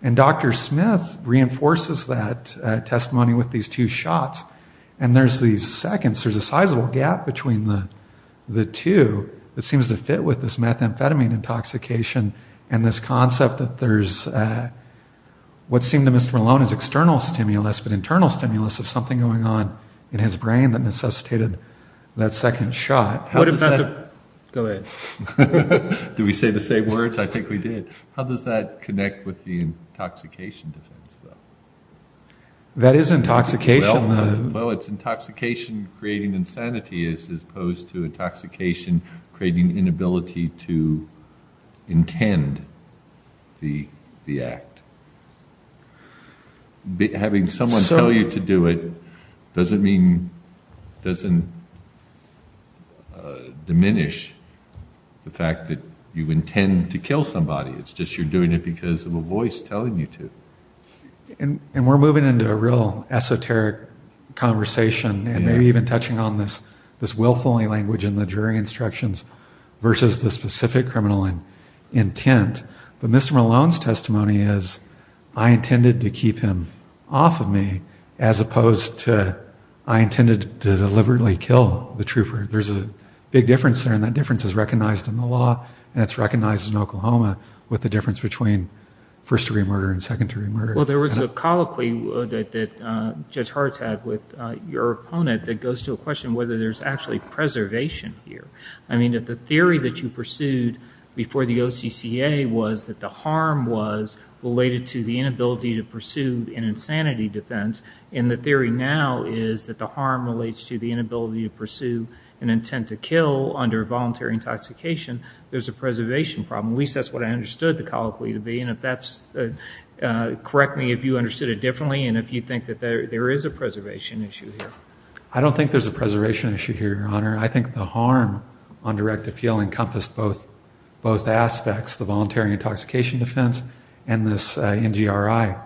And Dr. Smith reinforces that testimony with these two shots. And there's these seconds, there's a sizable gap between the two that seems to fit with this methamphetamine intoxication and this concept that there's what seemed to Mr. Malone's external stimulus, but internal stimulus of something going on in his brain that necessitated that second shot. Go ahead. Did we say the same words? I think we did. How does that connect with the intoxication defense? That is intoxication. Well, it's intoxication creating insanity as opposed to intoxication creating inability to intend the act. Having someone tell you to do it doesn't diminish the fact that you intend to kill somebody. It's just you're doing it because of a voice telling you to. And we're moving into a real esoteric conversation, and maybe even touching on this willfully language in the jury instructions versus the specific criminal intent. But Mr. Malone's testimony is I intended to keep him off of me as opposed to I intended to deliberately kill the trooper. There's a big difference there, and that difference is recognized in the law, and it's recognized in Oklahoma with the difference between first-degree murder and second-degree murder. Well, there was a colloquy that Judge Hart had with your opponent that goes to a question of whether there's actually preservation here. I mean, if the theory that you pursued before the OCCA was that the harm was related to the inability to pursue an insanity defense, and the theory now is that the harm relates to the inability to pursue an intent to kill under voluntary intoxication, there's a preservation problem. At least that's what I understood the colloquy to be, and correct me if you understood it differently and if you think that there is a preservation issue here. I don't think there's a preservation issue here, Your Honor. I think the harm on direct appeal encompassed both aspects, the voluntary intoxication defense and this NGRI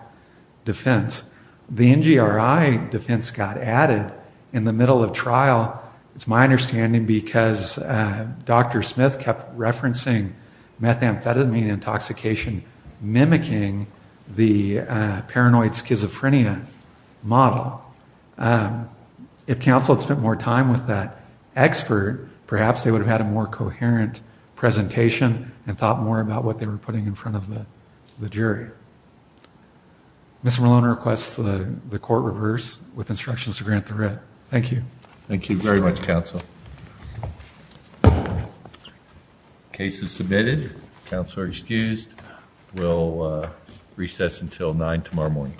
defense. The NGRI defense got added in the middle of trial, it's my understanding, because Dr. Smith kept referencing methamphetamine intoxication mimicking the paranoid schizophrenia model. If counsel had spent more time with that expert, perhaps they would have had a more coherent presentation and thought more about what they were putting in front of the jury. Mr. Malone requests that the court reverse with instructions to grant the writ. Thank you. Thank you very much, counsel. Case is submitted. Counsel are excused. We'll recess until 9 tomorrow morning.